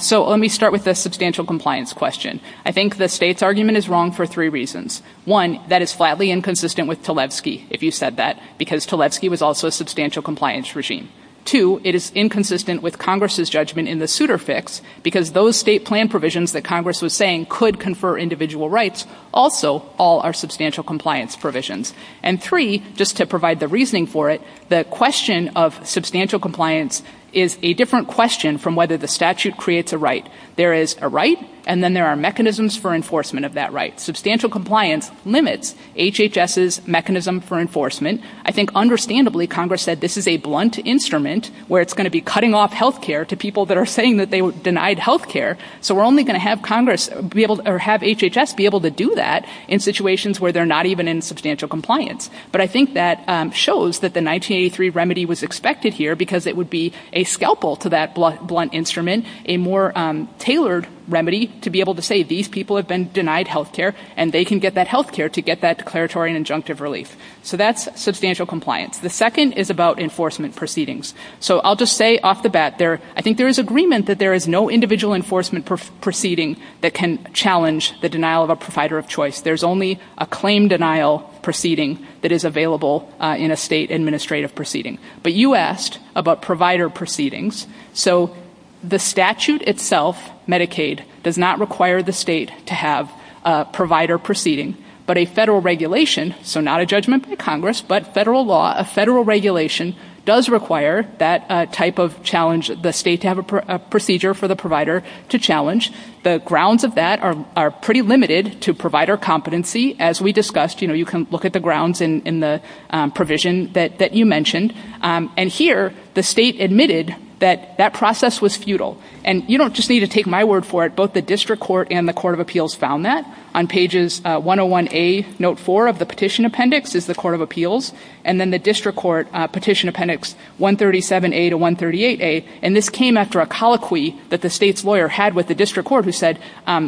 So let me start with the substantial compliance question. I think the state's argument is wrong for three reasons. One, that is flatly inconsistent with Tlebsky, if you said that, because Tlebsky was also a substantial compliance regime. Two, it is inconsistent with Congress's judgment in the suitor fix, because those state plan provisions that Congress was saying could confer individual rights also all are substantial compliance provisions. And three, just to provide the reasoning for it, the question of substantial compliance is a different question from whether the statute creates a right. There is a right, and then there are mechanisms for enforcement of that right. Substantial compliance limits HHS's mechanism for enforcement. I think understandably, Congress said this is a blunt instrument where it's going to be cutting off health care to people that are saying that they denied health care. So we're only going to have HHS be able to do that in situations where they're not even in substantial compliance. But I think that shows that the 1983 remedy was expected here, because it would be a scalpel to that blunt instrument, a more tailored remedy to be able to say these people have been denied health care, and they can get that health care to get that declaratory and injunctive relief. So that's substantial compliance. The second is about enforcement proceedings. So I'll just say off the bat there, I think there is agreement that there is no individual enforcement proceeding that can challenge the denial of a provider of choice. There's only a claim denial proceeding that is available in a state administrative proceeding. But you asked about provider proceedings. So the statute itself, Medicaid, does not require the state to have a provider proceeding, but a federal regulation, so not a judgment by Congress, but federal law, a federal regulation does require that type of challenge, the state to have a procedure for the provider to challenge. The grounds of that are pretty limited to provider competency. As we discussed, you can look at the grounds in the provision that you mentioned. And here, the state admitted that that process was futile. And you don't just need to take my word for it. Both the District Court and the Court of Appeals found that on pages 101A, note four of the petition appendix is the Court of Appeals. And then the District Court petition appendix 137A to 138A, and this came after a colloquy that the state's lawyer had with the District Court who said,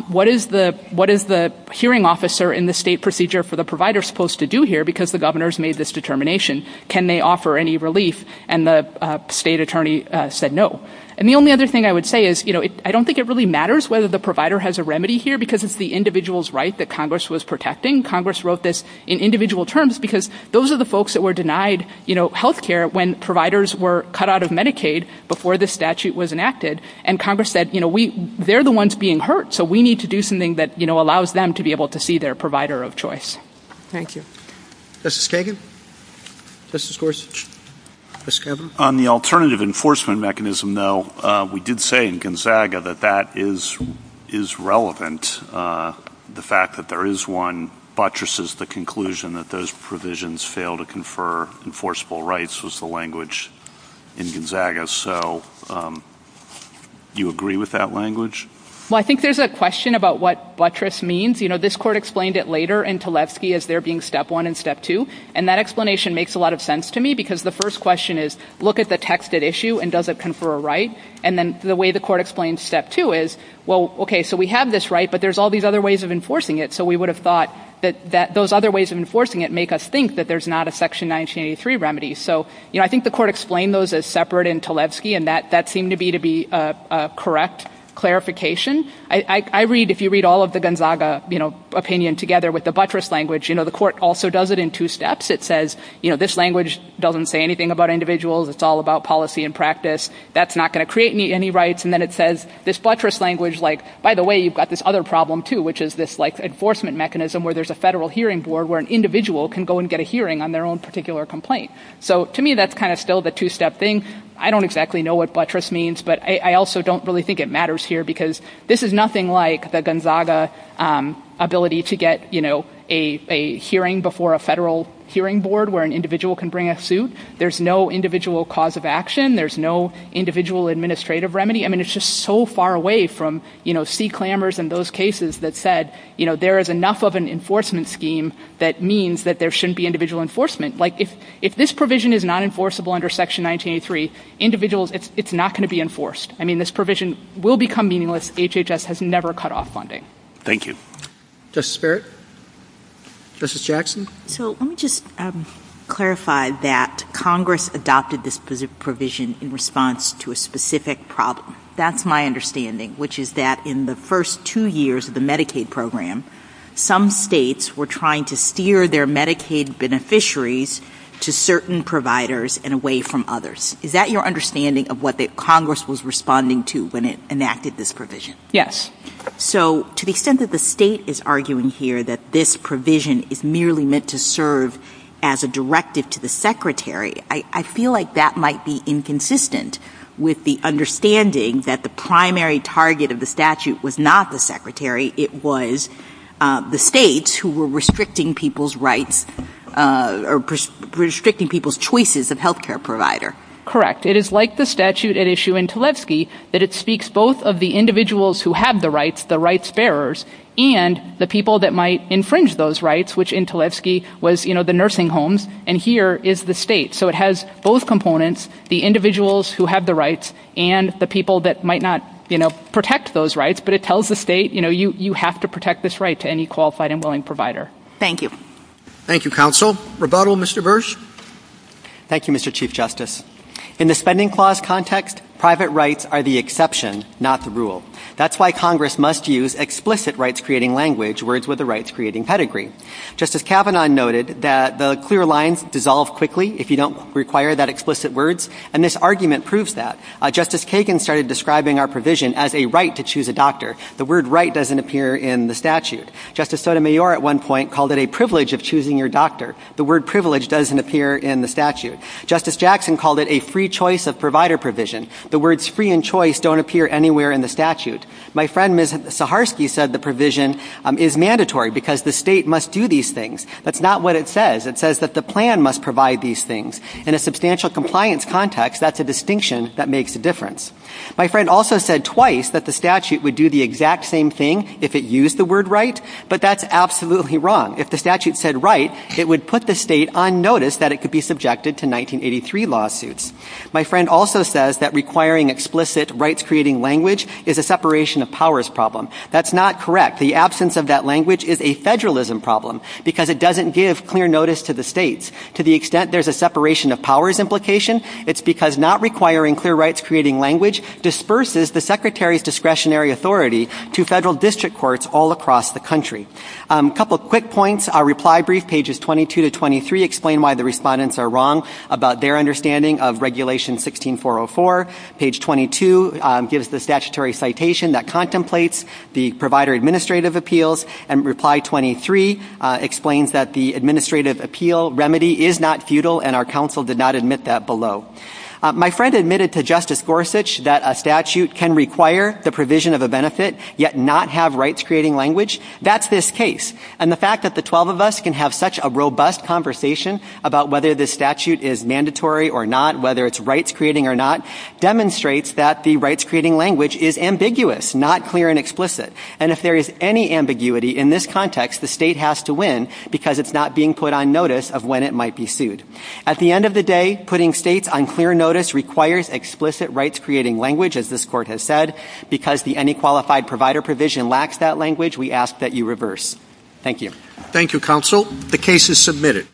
what is the hearing officer in the state procedure for the provider supposed to do here, because the governor has made this determination? Can they offer any relief? And the state attorney said no. And the only other thing I would say is, you know, I don't think it really matters whether the provider has a remedy here, because it's the individual's right that Congress was protecting. Congress wrote this in individual terms, because those are the folks that were denied, you know, health care when providers were cut out of Medicaid before this statute was enacted. And Congress said, you know, they're the ones being hurt, so we need to do something that, you know, allows them to be able to see their provider of choice. Thank you. Justice Kagan? Justice Gorsuch? Justice Kavanaugh? On the alternative enforcement mechanism, though, we did say in Gonzaga that that is relevant, the fact that there is one buttresses the conclusion that those provisions fail to confer enforceable rights was the language in Gonzaga. So do you agree with that language? Well, I think there's a question about what buttress means. You know, this court explained it later in Tlefsky as there being step one and step two, and that explanation makes a lot of sense to me, because the first question is, look at the text at issue and does it confer a right? And then the way the court explains step two is, well, okay, so we have this right, but there's all these other ways of enforcing it, so we would have thought that those other ways of enforcing it make us think that there's not a section 1983 remedy. So, you know, I think the court explained those as separate in Tlefsky, and that seemed to be to be a correct clarification. I read, if you read all of the Gonzaga, you know, opinion together with the buttress language, you know, the court also does it in two steps. It says, you know, this language doesn't say anything about individuals. It's all about policy and practice. That's not going to create any rights. And then it says this buttress language, like, by the way, you've got this other problem, too, which is this like enforcement mechanism where there's a federal hearing board where an individual can go and get a hearing on their own particular complaint. So to me, that's kind of still the two step thing. I don't exactly know what buttress means, but I also don't really think it matters here because this is nothing like the Gonzaga ability to get, you know, a hearing before a federal hearing board where an individual can bring a suit. There's no individual cause of action. There's no individual administrative remedy. I mean, it's just so far away from, you know, see clamors in those cases that said, you know, there is enough of an enforcement scheme that means that there shouldn't be individual enforcement. Like, if this provision is not enforceable under section 1983, individuals, it's not going to be enforced. I mean, this provision will become meaningless. HHS has never cut off funding. Thank you. Justice Barrett? Justice Jackson? So let me just clarify that Congress adopted this provision in response to a specific problem. That's my understanding, which is that in the first two years of the Medicaid program, some states were trying to steer their Medicaid beneficiaries to certain providers and away from others. Is that your understanding of what the Congress was responding to when it enacted this provision? Yes. So to the extent that the state is arguing here that this provision is merely meant to serve as a directive to the secretary, I feel like that might be inconsistent with the understanding that the primary target of the statute was not the secretary. It was the states who were restricting people's rights or restricting people's choices of health care provider. Correct. It is like the statute at issue in Tulevski that it speaks both of the individuals who have the rights, the rights bearers, and the people that might infringe those rights, which in Tulevski was, you know, the nursing homes, and here is the state. So it has both components, the individuals who have the rights and the people that might not, you know, protect those rights, but it tells the state, you know, you have to protect this right to any qualified and willing provider. Thank you. Thank you, counsel. Rebuttal, Mr. Bursch? Thank you, Mr. Chairman. Thank you, Mr. Chief Justice. In the spending clause context, private rights are the exception, not the rule. That's why Congress must use explicit rights-creating language, words with a rights-creating pedigree. Justice Kavanaugh noted that the clear lines dissolve quickly if you don't require that explicit words, and this argument proves that. Justice Kagan started describing our provision as a right to choose a doctor. The word right doesn't appear in the statute. Justice Sotomayor at one point called it a privilege of choosing your doctor. The word privilege doesn't appear in the statute. Justice Jackson called it a free choice of provider provision. The words free and choice don't appear anywhere in the statute. My friend, Ms. Saharsky, said the provision is mandatory because the state must do these things. That's not what it says. It says that the plan must provide these things. In a substantial compliance context, that's a distinction that makes a difference. My friend also said twice that the statute would do the exact same thing if it used the word right, but that's absolutely wrong. If the statute said right, it would put the state on notice that it could be subjected to 1983 lawsuits. My friend also says that requiring explicit rights-creating language is a separation of powers problem. That's not correct. The absence of that language is a federalism problem because it doesn't give clear notice to the states. To the extent there's a separation of powers implication, it's because not requiring clear rights-creating language disperses the secretary's discretionary authority to federal district courts all across the country. A couple of quick points, our reply brief, pages 22 to 23 explain why the respondents are wrong about their understanding of regulation 16404. Page 22 gives the statutory citation that contemplates the provider administrative appeals and reply 23 explains that the administrative appeal remedy is not futile and our counsel did not admit that below. My friend admitted to Justice Gorsuch that a statute can require the provision of a benefit yet not have rights-creating language. That's this case. And the fact that the 12 of us can have such a robust conversation about whether this statute is mandatory or not, whether it's rights-creating or not, demonstrates that the rights-creating language is ambiguous, not clear and explicit. And if there is any ambiguity in this context, the state has to win because it's not being put on notice of when it might be sued. At the end of the day, putting states on clear notice requires explicit rights-creating language, as this court has said. Because the Any Qualified Provider provision lacks that language, we ask that you reverse. Thank you. Thank you, counsel. The case is submitted.